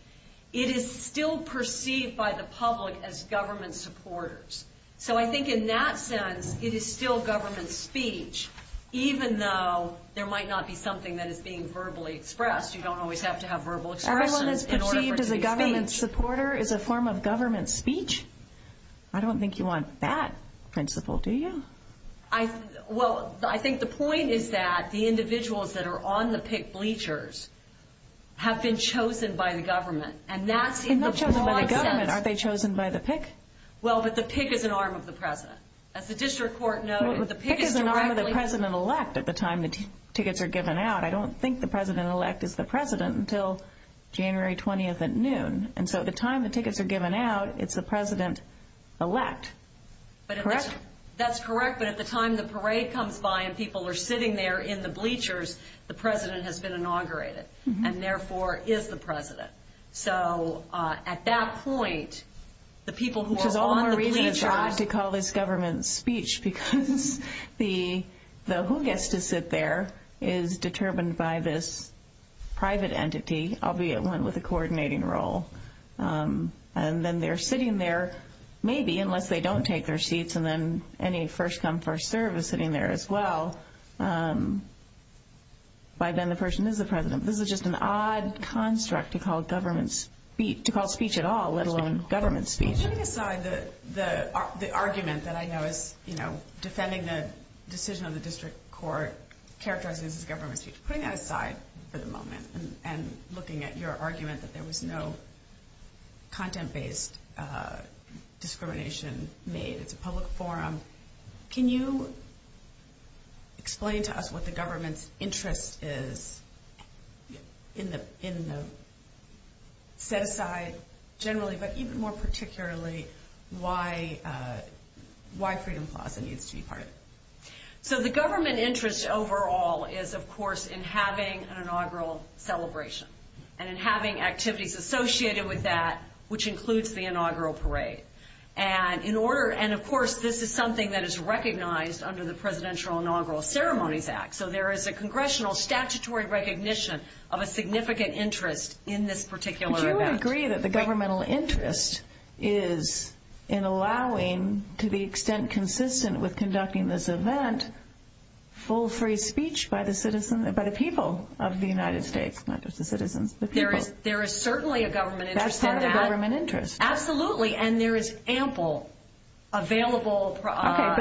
it is still perceived by the public as government supporters. So I think in that sense, it is still government speech, even though there might not be something that is being verbally expressed. Everyone is perceived as a government supporter as a form of government speech? I don't think you want that principle, do you? Well, I think the point is that the individuals that are on the PIC bleachers have been chosen by the government. They are not chosen by the government. Aren't they chosen by the PIC? Well, but the PIC is an arm of the President. As the district court knows, the PIC is directly... But the PIC is an arm of the President-elect at the time the tickets are given out. I don't think the President-elect is the President until January 20th at noon. And so at the time the tickets are given out, it's the President-elect. That's correct, but at the time the parade comes by and people are sitting there in the bleachers, the President has been inaugurated, and therefore is the President. So at that point, the people who are on the bleachers... Which is the only reason to call this government speech, because the who gets to sit there is determined by this private entity, albeit one with a coordinating role. And then they're sitting there maybe unless they don't take their seats and then any first-come, first-served is sitting there as well. By then the person is the President. This is just an odd construct to call speech at all, let alone government speech. Putting aside the argument that I know is defending the decision of the district court characterizing the government speech, putting that aside for the moment and looking at your argument that there was no content-based discrimination made at the public forum, can you explain to us what the government's interest is in the set-aside generally, but even more particularly, why Freedom Plaza needs to be part of it? So the government interest overall is, of course, in having an inaugural celebration and in having activities associated with that, which includes the inaugural parade. And, of course, this is something that is recognized under the Presidential Inaugural Ceremony Act. So there is a congressional statutory recognition of a significant interest in this particular event. Do you agree that the governmental interest is in allowing, to the extent consistent with conducting this event, full free speech by the people of the United States, not just the citizens? There is certainly a government interest. Absolutely, and there is ample available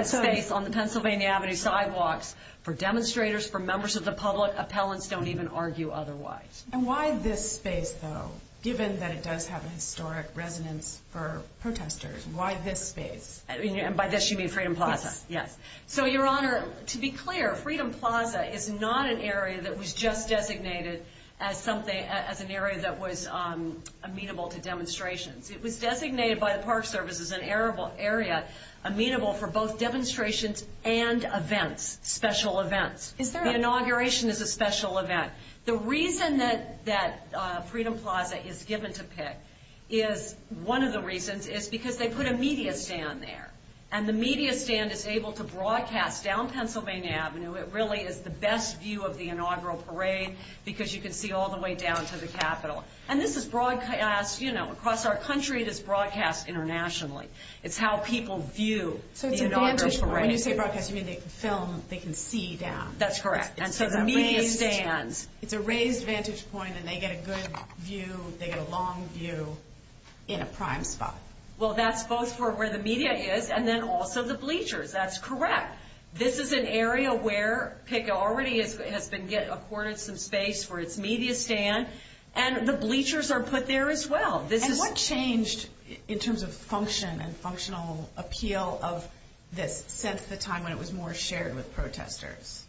space on the Pennsylvania Avenue sidewalks for demonstrators, for members of the public. Appellants don't even argue otherwise. And why this space, though, given that it does have a historic resonance for protesters? Why this space? And by this you mean Freedom Plaza? Yes. So, Your Honor, to be clear, Freedom Plaza is not an area that was just designated as an area that was amenable to demonstrations. It was designated by the Park Service as an area amenable for both demonstrations and events, special events. The inauguration is a special event. The reason that Freedom Plaza is given to Pitt is, one of the reasons, is because they put a media stand there. And the media stand is able to broadcast down Pennsylvania Avenue. It really is the best view of the inaugural parade because you can see all the way down to the Capitol. And this is broadcast, you know, across our country. It is broadcast internationally. It's how people view the inaugural parade. When you say broadcast, you mean they can film, they can see down? That's correct. And so the media stand. It's a raised vantage point and they get a good view, they get a long view in a prime spot. Well, that's both where the media is and then also the bleachers. That's correct. This is an area where Pitt already has been given a cornice in space where it's media stand. And the bleachers are put there as well. And what changed in terms of function and functional appeal since the time when it was more shared with protesters?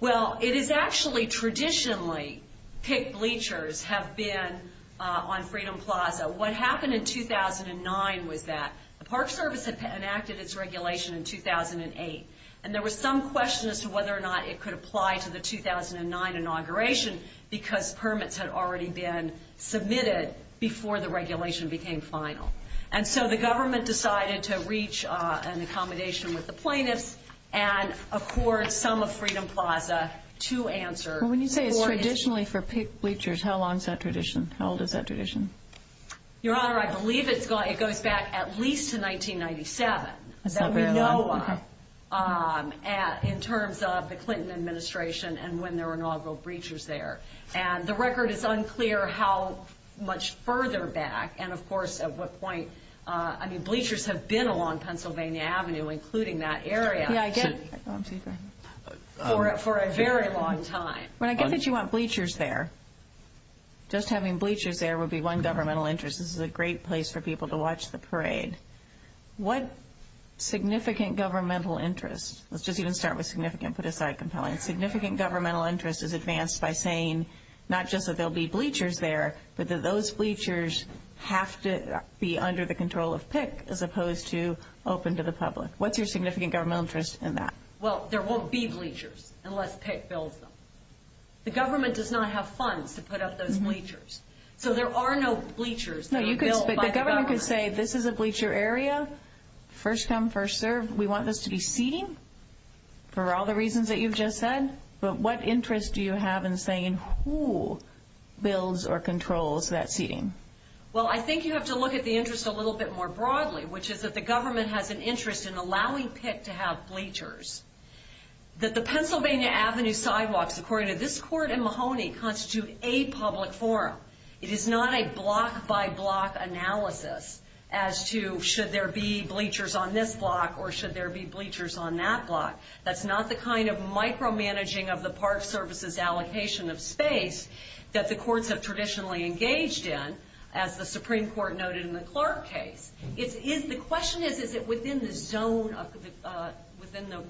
Well, it is actually traditionally Pitt bleachers have been on Freedom Plaza. What happened in 2009 with that, the Park Service enacted its regulation in 2008. And there was some question as to whether or not it could apply to the 2009 inauguration because permits had already been submitted before the regulation became final. And so the government decided to reach an accommodation with the plaintiffs. And, of course, some of Freedom Plaza, two answers. When you say it's traditionally for Pitt bleachers, how long is that tradition? How old is that tradition? Your Honor, I believe it goes back at least to 1997. Okay. In terms of the Clinton administration and when there were inaugural bleachers there. And the record is unclear how much further back and, of course, at what point. I mean bleachers have been along Pennsylvania Avenue, including that area, for a very long time. I get that you want bleachers there. Just having bleachers there would be one governmental interest. This is a great place for people to watch the parade. What significant governmental interest? Let's just even start with significant, put aside compelling. Significant governmental interest is advanced by saying not just that there will be bleachers there, but that those bleachers have to be under the control of Pitt as opposed to open to the public. What's your significant governmental interest in that? Well, there won't be bleachers unless Pitt builds them. The government does not have funds to put up those bleachers. So there are no bleachers that are built by the government. The government could say this is a bleacher area. First come, first serve. We want this to be seen for all the reasons that you've just said. But what interest do you have in saying who builds or controls that scene? Well, I think you have to look at the interest a little bit more broadly, which is that the government has an interest in allowing Pitt to have bleachers. That the Pennsylvania Avenue sidewalks, according to this court in Mahoney, constitute a public forum. It is not a block-by-block analysis as to should there be bleachers on this block or should there be bleachers on that block. That's not the kind of micromanaging of the Park Service's allocation of space that the courts have traditionally engaged in, as the Supreme Court noted in the Clark case. The question is, is it within the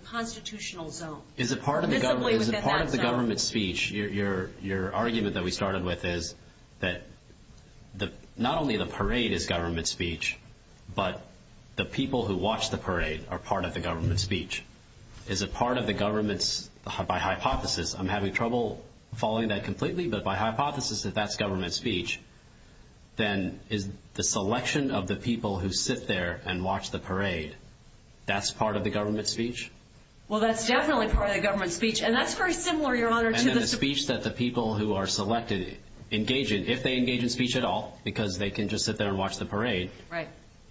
constitutional zone? Is it part of the government speech? Your argument that we started with is that not only the parade is government speech, but the people who watch the parade are part of the government speech. Is it part of the government's, by hypothesis, I'm having trouble following that completely, but by hypothesis if that's government speech, then is the selection of the people who sit there and watch the parade, that's part of the government speech? Well, that's definitely part of the government speech, and that's pretty similar, Your Honor. And then the speech that the people who are selected engage in, if they engage in speech at all, because they can just sit there and watch the parade,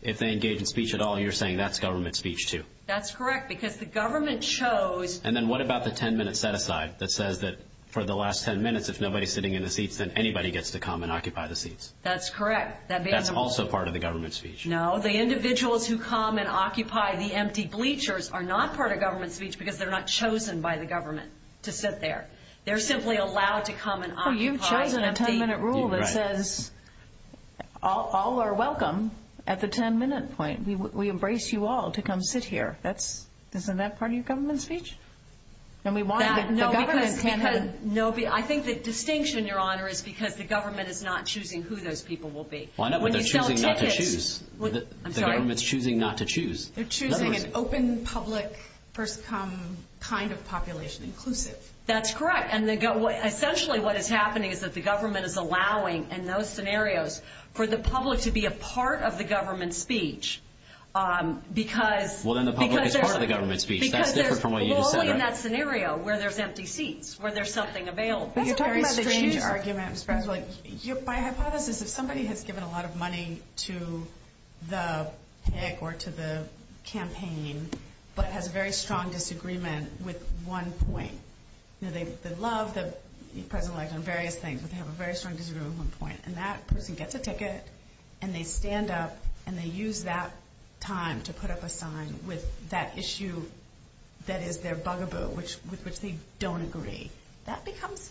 if they engage in speech at all, you're saying that's government speech too? That's correct, because the government chose... And then what about the 10-minute set-aside that says that for the last 10 minutes, if nobody's sitting in the seats, then anybody gets to come and occupy the seats? That's correct. That's also part of the government speech? No, the individuals who come and occupy the empty bleachers are not part of government speech because they're not chosen by the government to sit there. They're simply allowed to come and occupy the seats. There's a 10-minute rule that says all are welcome at the 10-minute point. We embrace you all to come sit here. Isn't that part of your government speech? I think the distinction, Your Honor, is because the government is not choosing who those people will be. Why not? But they're choosing not to choose. I'm sorry. The government's choosing not to choose. They're choosing an open, public, first-come, kind of population, inclusive. That's correct. Essentially what is happening is that the government is allowing, in those scenarios, for the public to be a part of the government speech because there's no way in that scenario where there's empty seats, where there's nothing available. That's a very strange argument. My hypothesis is somebody has given a lot of money to the campaign but has a very strong disagreement with one point. They love the President-Elect on various things, but they have a very strong disagreement with one point. That person gets a ticket, and they stand up, and they use that time to put up a sign with that issue that is their bugaboo, with which they don't agree. That becomes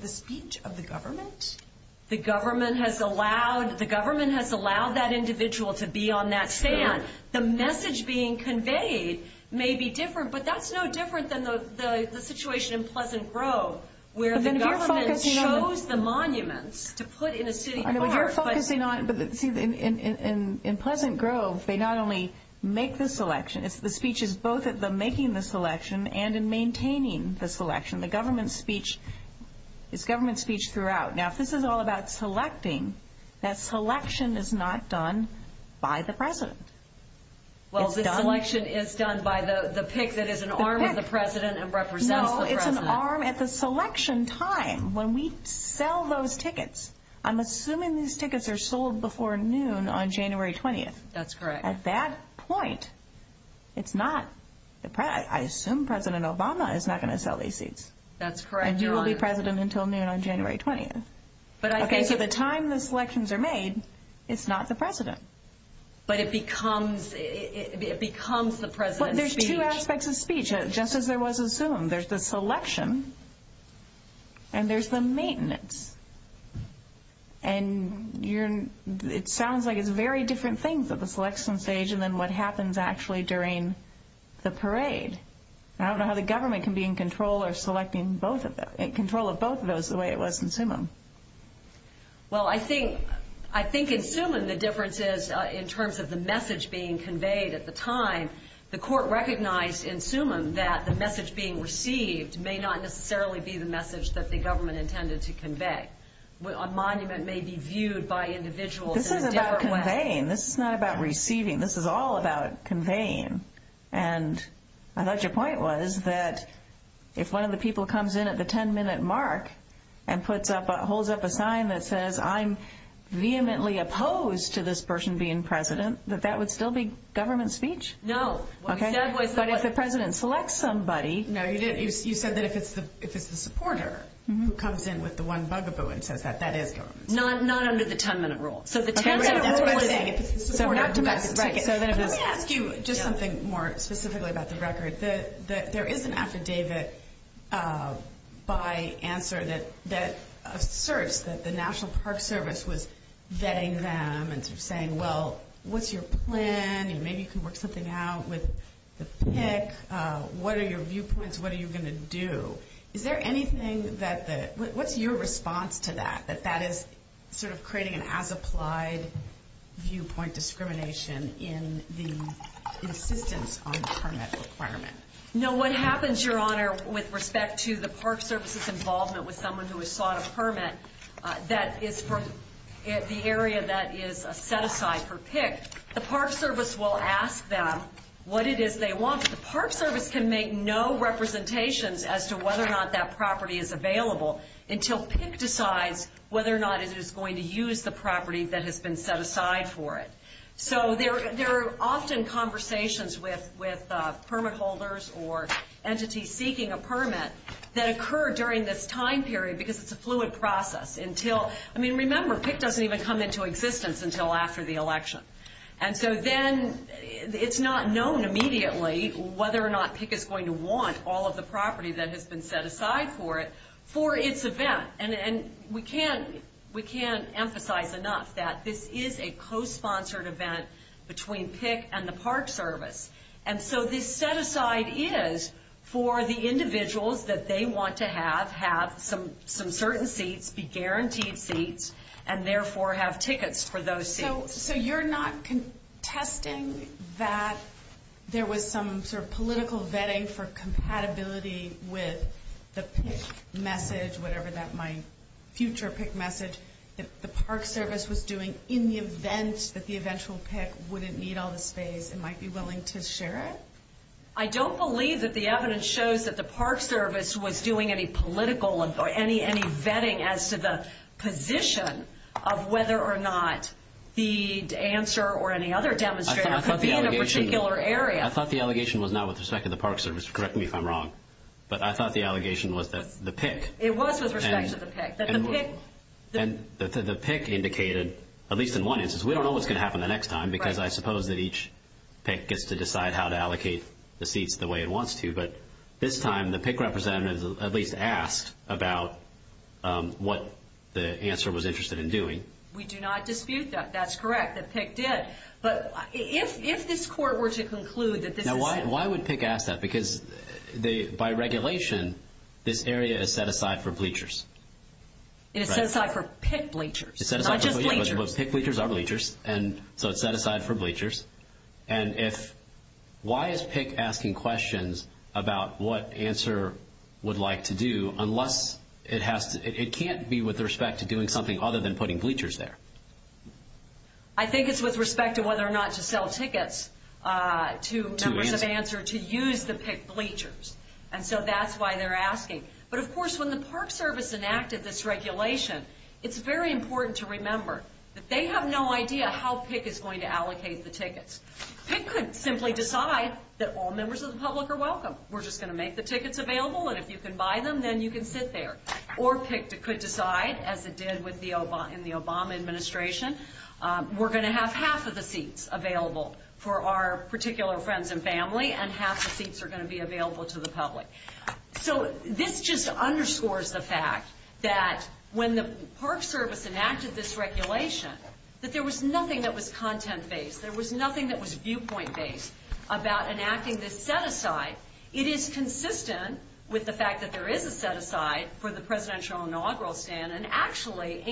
the speech of the government. The government has allowed that individual to be on that stand. The message being conveyed may be different, but that's no different than the situation in Pleasant Grove where the government chose the monuments to put in a city court. In Pleasant Grove, they not only make the selection. The speech is both in making the selection and in maintaining the selection. The government speech is government speech throughout. Now, if this is all about selecting, that selection is not done by the President. Well, the selection is done by the pick that is an arm of the President and representative of the President. No, it's an arm at the selection time when we sell those tickets. I'm assuming these tickets are sold before noon on January 20th. That's correct. At that point, I assume President Obama is not going to sell these seats. That's correct. And he will be President until noon on January 20th. But I think at the time the selections are made, it's not the President. But it becomes the President's speech. But there's two aspects of speech, just as there was in Zoom. There's the selection and there's the maintenance. And it sounds like it's very different things at the selection stage than what happens actually during the parade. And I don't know how the government can be in control of selecting both of those, in control of both of those the way it was in Zoom. Well, I think in Zoom the difference is in terms of the message being conveyed at the time. The court recognized in Zoom that the message being received may not necessarily be the message that the government intended to convey. A monument may be viewed by individuals in a different way. This is about conveying. This is not about receiving. This is all about conveying. And I thought your point was that if one of the people comes in at the 10-minute mark and holds up a sign that says, I'm vehemently opposed to this person being President, that that would still be government speech? No. Okay. But if the President selects somebody. No, you said that if it's a supporter who comes in with the one bugaboo and says that, that is government. Not under the 10-minute rule. Just something more specifically about the record. There is an affidavit by answer that asserts that the National Park Service was vetting them and saying, well, what's your plan? Maybe you can work something out with the PIC. What are your viewpoints? What are you going to do? Is there anything that the ‑‑ what's your response to that, that that is sort of creating an as-applied viewpoint discrimination in the insistence on permit requirements? No, what happens, Your Honor, with respect to the Park Service's involvement with someone who has sought a permit that is from the area that is set aside for PIC, the Park Service will ask them what it is they want. The Park Service can make no representations as to whether or not that property is available until PIC decides whether or not it is going to use the property that has been set aside for it. So there are often conversations with permit holders or entities seeking a permit that occur during this time period because it's a fluid process until ‑‑ I mean, remember, PIC doesn't even come into existence until after the election. And so then it's not known immediately whether or not PIC is going to want all of the property that has been set aside for it for its event. And we can't emphasize enough that this is a co‑sponsored event between PIC and the Park Service. And so this set aside is for the individuals that they want to have, have some certain seats, be guaranteed seats, and therefore have tickets for those seats. So you're not contesting that there was some sort of political vetting for compatibility with the PIC message, whatever that might be, future PIC message, that the Park Service was doing in the event that the eventual PIC wouldn't need all this space and might be willing to share it? I don't believe that the evidence shows that the Park Service was doing any political, any vetting as to the position of whether or not the answer or any other demonstrator could be in a particular area. I thought the allegation was not with respect to the Park Service. Correct me if I'm wrong. But I thought the allegation was that the PIC. It was with respect to the PIC. And the PIC indicated, at least in one instance, we don't know what's going to happen the next time because I suppose that each PIC gets to decide how to allocate the seats the way it wants to. But this time, the PIC representative at least asked about what the answer was interested in doing. We do not dispute that. That's correct. The PIC did. But if this court were to conclude that this… Now, why would PIC ask that? Because by regulation, this area is set aside for bleachers. It is set aside for PIC bleachers, not just bleachers. But PIC bleachers are bleachers. And so it's set aside for bleachers. And why is PIC asking questions about what answer it would like to do, unless it can't be with respect to doing something other than putting bleachers there? I think it's with respect to whether or not to sell tickets to members of ANSWER to use the PIC bleachers. And so that's why they're asking. But, of course, when the Park Service enacted this regulation, it's very important to remember that they have no idea how PIC is going to allocate the tickets. PIC could simply decide that all members of the public are welcome. We're just going to make the tickets available, and if you can buy them, then you can sit there. Or PIC could decide, as it did in the Obama Administration, we're going to have half of the seats available for our particular friends and family, and half the seats are going to be available to the public. So this just underscores the fact that when the Park Service enacted this regulation, that there was nothing that was content-based. There was nothing that was viewpoint-based about enacting this set-aside. It is consistent with the fact that there is a set-aside for the Presidential Inaugural Stand, and actually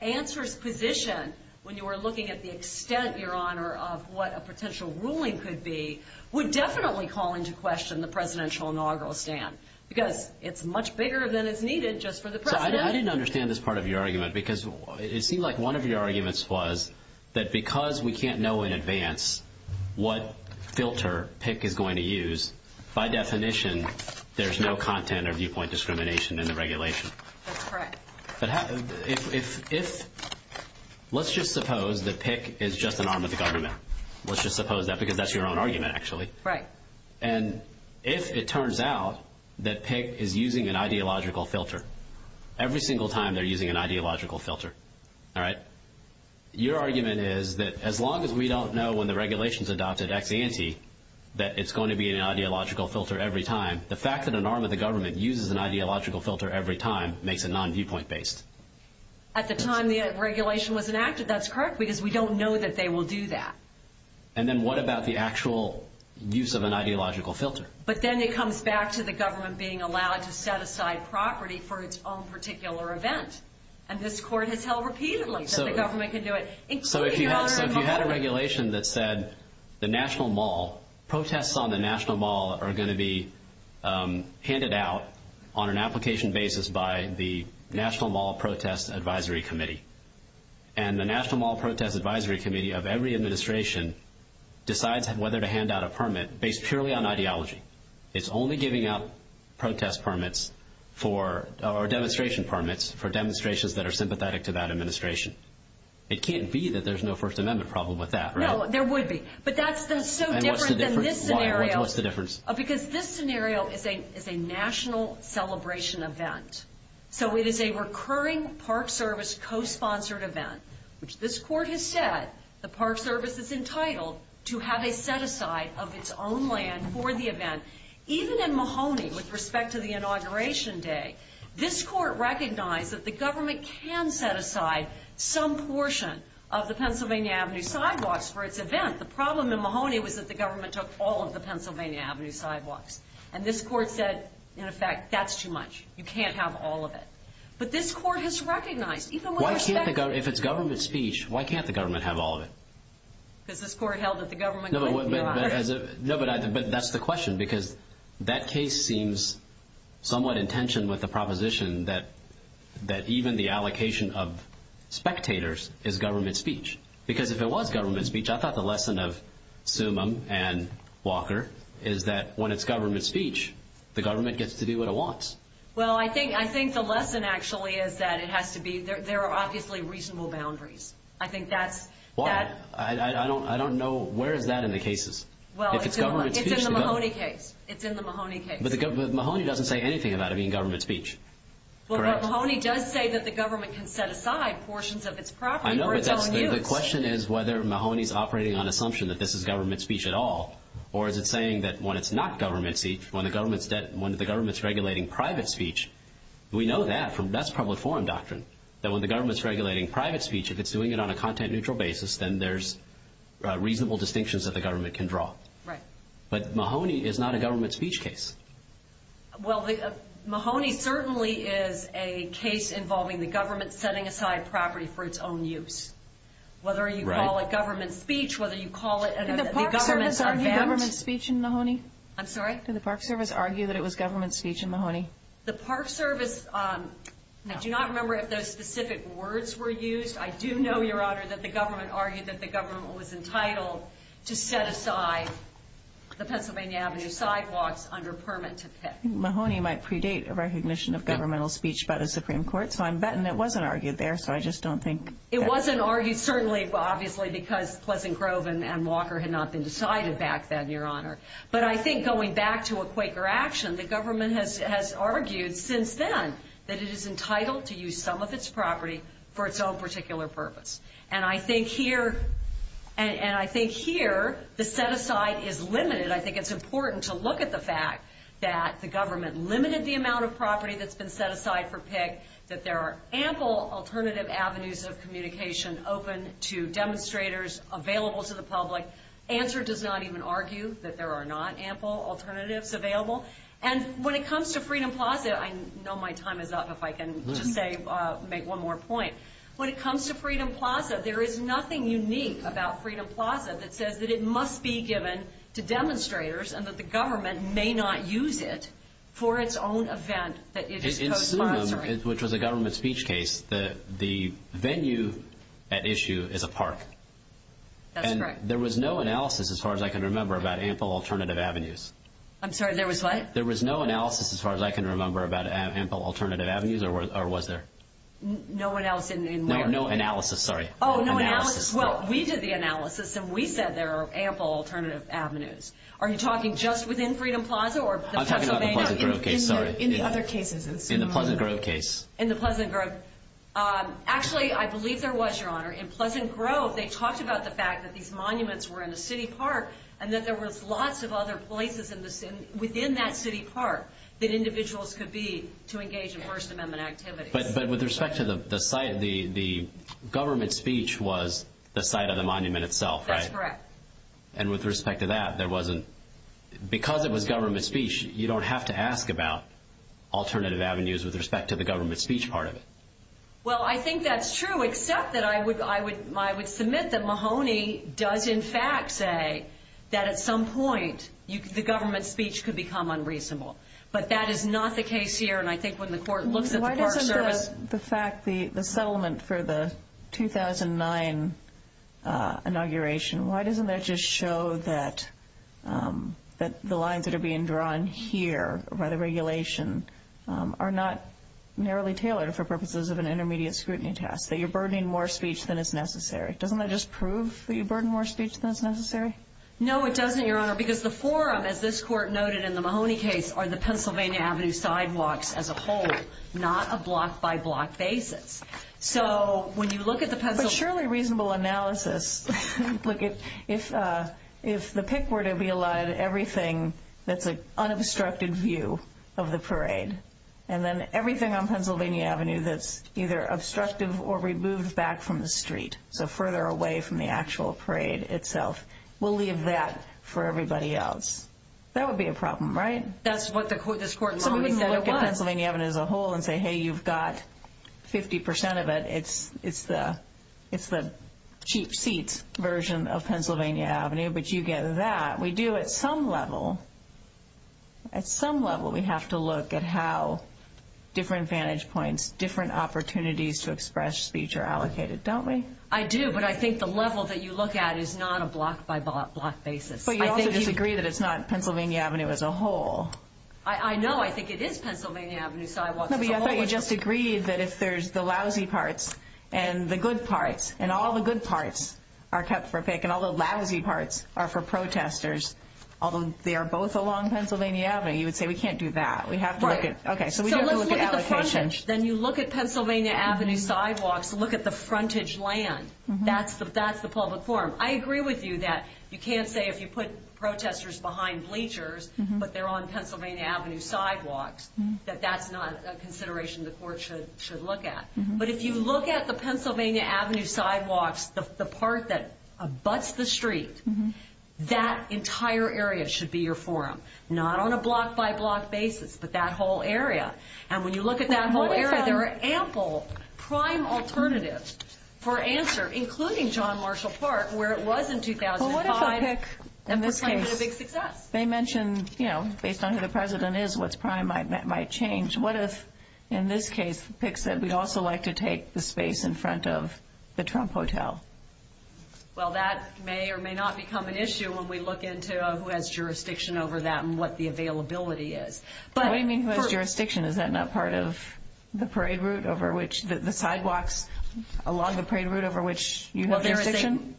ANSWER's position, when you were looking at the extent, Your Honor, of what a potential ruling could be, would definitely call into question the Presidential Inaugural Stand, because it's much bigger than is needed just for the President. I didn't understand this part of your argument, because it seemed like one of your arguments was that because we can't know in advance what filter PIC is going to use, by definition, there's no content or viewpoint discrimination in the regulation. That's correct. Let's just suppose that PIC is just an arm of the government. Let's just suppose that, because that's your own argument, actually. Right. And if it turns out that PIC is using an ideological filter, every single time they're using an ideological filter, all right? Your argument is that as long as we don't know when the regulation's adopted ex ante that it's going to be an ideological filter every time, the fact that an arm of the government uses an ideological filter every time makes it non-viewpoint based. At the time the regulation was enacted, that's correct, because we don't know that they will do that. And then what about the actual use of an ideological filter? But then it comes back to the government being allowed to set aside property for its own particular event. And this Court has held repeatedly that the government can do it. So if you had a regulation that said the National Mall, are going to be handed out on an application basis by the National Mall Protest Advisory Committee, and the National Mall Protest Advisory Committee of every administration decides whether to hand out a permit based purely on ideology, it's only giving out protest permits or demonstration permits for demonstrations that are sympathetic to that administration. It can't be that there's no First Amendment problem with that, right? No, there would be. But that's so different than this scenario. What's the difference? Because this scenario is a national celebration event. So it is a recurring Park Service co-sponsored event. This Court has said the Park Service is entitled to have it set aside of its own land for the event. Even in Mahoney with respect to the Inauguration Day, this Court recognized that the government can set aside some portion of the Pennsylvania Avenue sidewalks for its events. The problem in Mahoney was that the government took all of the Pennsylvania Avenue sidewalks. And this Court said, in effect, that's too much. You can't have all of it. But this Court has recognized, even with respect to it. If it's government speech, why can't the government have all of it? Because this Court held that the government could. No, but that's the question. Because that case seems somewhat in tension with the proposition that even the allocation of spectators is government speech. Because if it was government speech, I thought the lesson of Summum and Walker is that when it's government speech, the government gets to do what it wants. Well, I think the lesson actually is that there are obviously reasonable boundaries. I don't know where that is in the cases. It's in the Mahoney case. But Mahoney doesn't say anything about it being government speech. Well, Mahoney does say that the government can set aside portions of its property for its own use. I know, but the question is whether Mahoney is operating on the assumption that this is government speech at all. Or is it saying that when it's not government speech, when the government is regulating private speech, we know that. That's public forum doctrine. That when the government is regulating private speech, if it's doing it on a content-neutral basis, then there's reasonable distinctions that the government can draw. But Mahoney is not a government speech case. Well, Mahoney certainly is a case involving the government setting aside property for its own use. Whether you call it government speech, whether you call it government... Did the Park Service argue that it was government speech in Mahoney? I'm sorry? Did the Park Service argue that it was government speech in Mahoney? The Park Service, I do not remember if those specific words were used. I do know, Your Honor, that the government argued that the government was entitled to set aside the Pennsylvania Avenue sidewalks under permit to set. Mahoney might predate a recognition of governmental speech by the Supreme Court, so I'm betting it wasn't argued there, so I just don't think... It wasn't argued, certainly, obviously, because Pleasant Grove and Walker had not been decided back then, Your Honor. But I think going back to a Quaker action, the government has argued since then that it is entitled to use some of its property for its own particular purpose. And I think here the set aside is limited. I think it's important to look at the fact that the government limited the amount of property that's been set aside for pick, that there are ample alternative avenues of communication open to demonstrators, available to the public. Answer does not even argue that there are not ample alternatives available. And when it comes to Freedom Plaza, I know my time is up, if I can, say, make one more point. When it comes to Freedom Plaza, there is nothing unique about Freedom Plaza that says that it must be given to demonstrators and that the government may not use it for its own event that is co-sponsored. In Sunim, which was a government speech case, the venue at issue is a park. That's correct. And there was no analysis, as far as I can remember, about ample alternative avenues. I'm sorry, there was what? There was no analysis, as far as I can remember, about ample alternative avenues, or was there? No analysis, sorry. Oh, no analysis. Well, we did the analysis, and we said there are ample alternative avenues. Are you talking just within Freedom Plaza? I'm talking about the Pleasant Grove case, sorry. In the other cases. In the Pleasant Grove case. In the Pleasant Grove. Actually, I believe there was, Your Honor. In Pleasant Grove, they talked about the fact that these monuments were in the city park and that there was lots of other places within that city park that individuals could be to engage in First Amendment activities. But with respect to the site, the government speech was the site of the monument itself, right? That's correct. And with respect to that, because it was government speech, you don't have to ask about alternative avenues with respect to the government speech part of it. Well, I think that's true, except that I would submit that Mahoney does, in fact, say that at some point the government speech could become unreasonable. But that is not the case here. Why doesn't the fact, the settlement for the 2009 inauguration, why doesn't that just show that the lines that are being drawn here by the regulation are not narrowly tailored for purposes of an intermediate scrutiny test, that you're burdening more speech than is necessary? Doesn't that just prove that you burden more speech than is necessary? No, it doesn't, Your Honor, because the forum, as this court noted in the Mahoney case, are the Pennsylvania Avenue sidewalks as a whole, not a block-by-block basis. So when you look at the Pennsylvania Avenue... But surely reasonable analysis. Look, if the pick were to be allowed everything that's an unobstructed view of the parade, and then everything on Pennsylvania Avenue that's either obstructive or removed back from the street, so further away from the actual parade itself, we'll leave that for everybody else. That would be a problem, right? That's what this court noted. So we wouldn't look at Pennsylvania Avenue as a whole and say, hey, you've got 50% of it. It's the cheap seats version of Pennsylvania Avenue, but you get that. We do at some level, at some level we have to look at how different vantage points, different opportunities to express speech are allocated, don't we? I do, but I think the level that you look at is not a block-by-block basis. But you also disagree that it's not Pennsylvania Avenue as a whole. I know. I think it is Pennsylvania Avenue sidewalks as a whole. No, but you also disagree that if there's the lousy parts and the good parts, and all the good parts are cut for pick and all the lousy parts are for protesters, although they are both along Pennsylvania Avenue, you would say we can't do that. We have to look at... Right. Okay, so we have to look at... So look at the frontage. Then you look at Pennsylvania Avenue sidewalks to look at the frontage land. That's the public forum. I agree with you that you can't say if you put protesters behind bleachers, but they're on Pennsylvania Avenue sidewalks, that that's not a consideration the court should look at. But if you look at the Pennsylvania Avenue sidewalks, the part that abuts the street, that entire area should be your forum, not on a block-by-block basis, but that whole area. And when you look at that whole area, there are ample prime alternatives for answer, including John Marshall Park, where it was in 2005. Well, what if I pick, in this case, they mentioned, you know, based on who the president is, what's prime might change. What if, in this case, pick said we'd also like to take the space in front of the Trump Hotel? Well, that may or may not become an issue when we look into who has jurisdiction over that and what the availability is. What do you mean who has jurisdiction? Is that not part of the parade route over which the sidewalks along the parade route over which you have jurisdiction?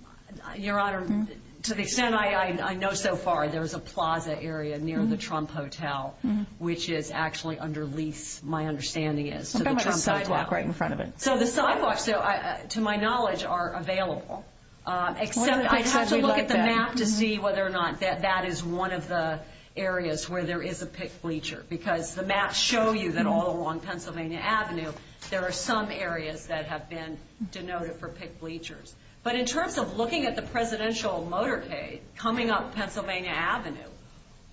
Your Honor, to the extent I know so far, there's a plaza area near the Trump Hotel, which is actually underneath, my understanding is, the Trump sidewalk. Right in front of it. So the sidewalks, to my knowledge, are available. Except I'd have to look at the map to see whether or not that is one of the areas where there is a pick bleacher, because the maps show you that all along Pennsylvania Avenue there are some areas that have been denoted for pick bleachers. But in terms of looking at the presidential motorcade coming up Pennsylvania Avenue,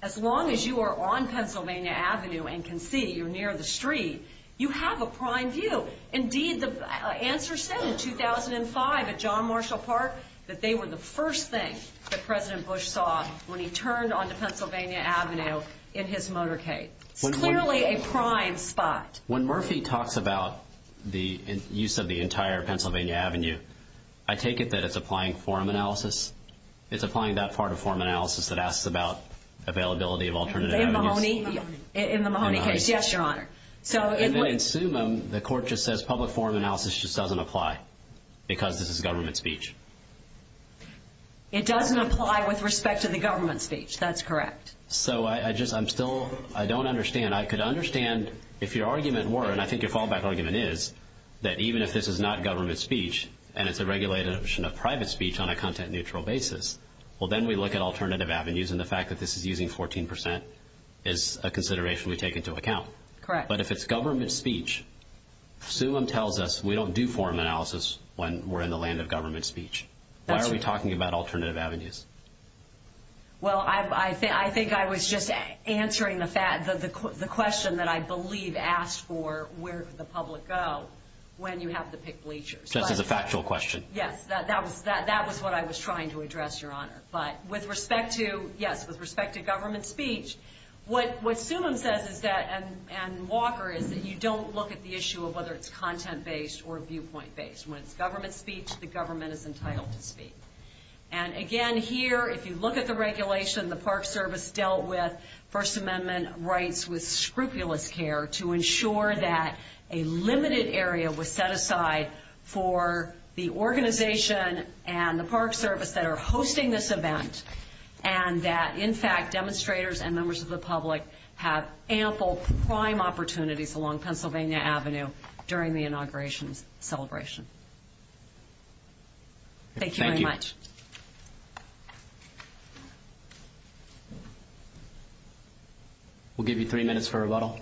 as long as you are on Pennsylvania Avenue and can see, you're near the street, you have a prime view. Indeed, the answer said in 2005 at John Marshall Park, that they were the first thing that President Bush saw when he turned onto Pennsylvania Avenue in his motorcade. Clearly a prime spot. When Murphy talks about the use of the entire Pennsylvania Avenue, I take it that it's applying forum analysis? It's applying that part of forum analysis that asks about availability of alternative avenues? In the Mahoney case, yes, Your Honor. And then in Suman, the court just says public forum analysis just doesn't apply because this is government speech. It doesn't apply with respect to the government speech. That's correct. So I'm still, I don't understand. And I could understand if your argument were, and I think your callback argument is, that even if this is not government speech and it's a regulation of private speech on a content-neutral basis, well then we look at alternative avenues and the fact that this is using 14% is a consideration we take into account. Correct. But if it's government speech, Suman tells us we don't do forum analysis when we're in the land of government speech. Why are we talking about alternative avenues? Well, I think I was just answering the question that I believe asks for where could the public go when you have to pick bleachers. Just as a factual question. Yes, that was what I was trying to address, Your Honor. But with respect to, yes, with respect to government speech, what Suman says is that, and Walker, is that you don't look at the issue of whether it's content-based or viewpoint-based. When it's government speech, the government is entitled to speak. And, again, here, if you look at the regulation, the Park Service dealt with First Amendment rights with scrupulous care to ensure that a limited area was set aside for the organization and the Park Service that are hosting this event and that, in fact, demonstrators and members of the public have ample prime opportunities along Pennsylvania Avenue during the inauguration celebration. Thank you very much. We'll give you three minutes for rebuttal.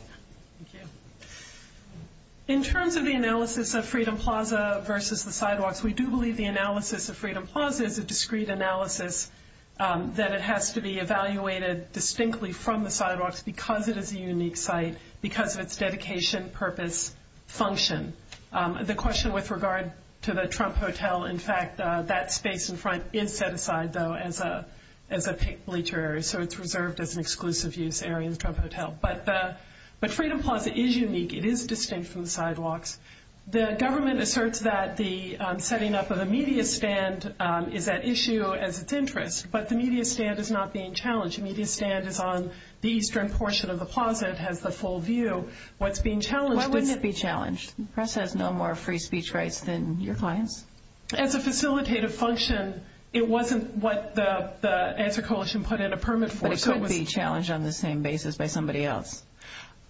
Thank you. In terms of the analysis of Freedom Plaza versus the sidewalks, we do believe the analysis of Freedom Plaza is a discrete analysis that it has to be evaluated distinctly from the sidewalks because it is a unique site, because of its dedication, purpose, function. The question with regard to the Trump Hotel, in fact, that space in front is set aside, though, as a pink bleacher, so it's reserved as an exclusive use area in Trump Hotel. But Freedom Plaza is unique. It is distinct from the sidewalks. The government asserts that the setting up of the media stand is an issue of its interest, but the media stand is not being challenged. The media stand is on the eastern portion of the plaza. It has the full view. Why wouldn't it be challenged? The press has no more free speech rights than your clients. As a facilitative function, it wasn't what the answer coalition put in a permit for. It could be challenged on the same basis by somebody else.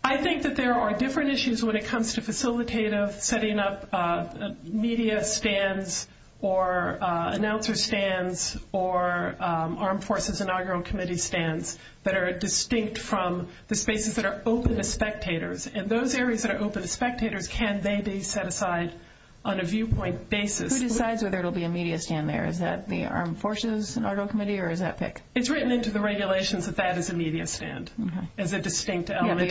I think that there are different issues when it comes to facilitative setting up media stands or announcer stands or Armed Forces Inaugural Committee stands that are distinct from the spaces that are open to spectators, and those areas that are open to spectators, can they be set aside on a viewpoint basis? Who decides whether it will be a media stand there? Is that the Armed Forces Inaugural Committee, or is that picked? It's written into the regulations that that is a media stand, as a distinct element. Yeah,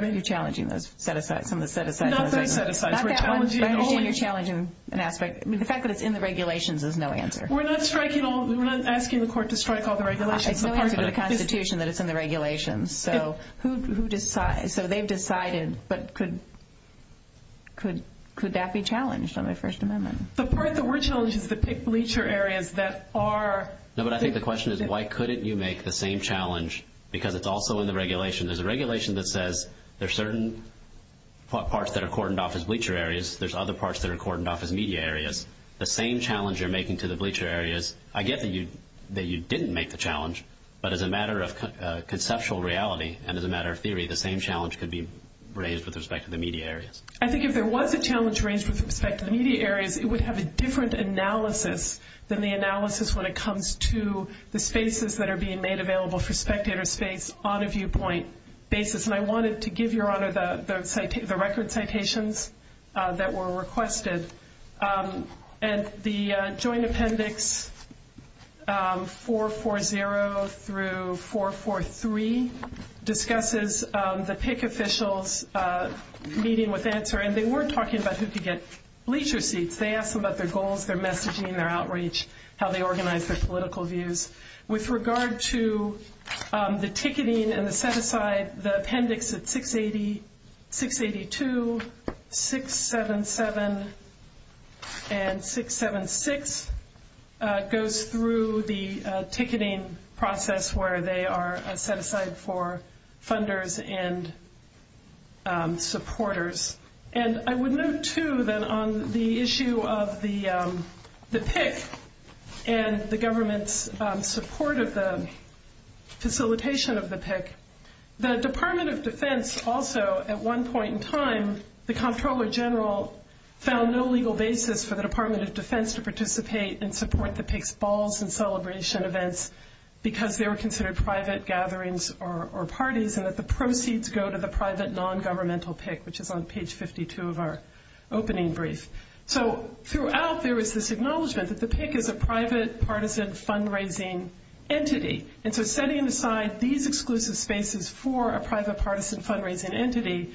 they're challenging those set-asides. Not that it's set-asides. Not that it's challenging an aspect. The fact that it's in the regulations is no answer. We're not asking the court to strike all the regulations. It's not under the Constitution that it's in the regulations. So they've decided, but could that be challenged under the First Amendment? The part that we're challenging is to pick bleacher areas that are... No, but I think the question is why couldn't you make the same challenge because it's also in the regulation. There's a regulation that says there are certain parts that are cordoned off as bleacher areas. There's other parts that are cordoned off as media areas. The same challenge you're making to the bleacher areas... I get that you didn't make the challenge, but as a matter of conceptual reality and as a matter of theory, the same challenge could be raised with respect to the media areas. I think if there was a challenge raised with respect to the media areas, it would have a different analysis than the analysis when it comes to the spaces that are being made available for spectator space on a viewpoint basis. And I wanted to give Your Honor the record citations that were requested. And the Joint Appendix 440 through 443 discusses the TIC officials meeting with answer, and they weren't talking about who could get bleacher seats. They asked them about their goals, their messaging, their outreach, how they organized their political views. With regard to the ticketing and the set-aside, the appendix of 682, 677, and 676 goes through the ticketing process where they are set aside for funders and supporters. And I would note, too, that on the issue of the TIC and the government's support of the facilitation of the TIC, the Department of Defense also at one point in time, the Comptroller General found no legal basis for the Department of Defense to participate and support the TIC's balls and celebration events because they were considered private gatherings or parties, and that the proceeds go to the private non-governmental TIC, which is on page 52 of our opening brief. So throughout, there was this acknowledgment that the TIC is a private, partisan fundraising entity. And so setting aside these exclusive spaces for a private, partisan fundraising entity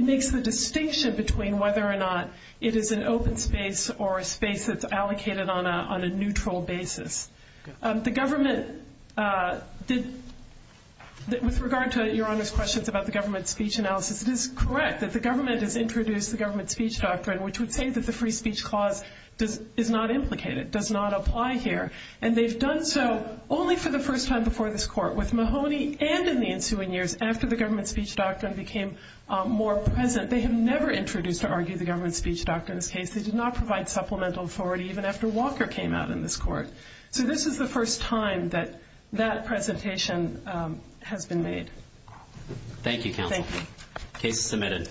makes the distinction between whether or not it is an open space or a space that's allocated on a neutral basis. The government did, with regard to Your Honor's questions about the government's speech analysis, it is correct that the government has introduced the government's speech doctrine, which would say that the free speech clause does not implicate it, does not apply here. And they've done so only for the first time before this court with Mahoney and in the ensuing years after the government's speech doctrine became more present. They have never introduced or argued the government's speech doctrine in this case. They did not provide supplemental authority even after Walker came out in this court. So this is the first time that that presentation has been made. Thank you, Counsel. Thank you. Case submitted.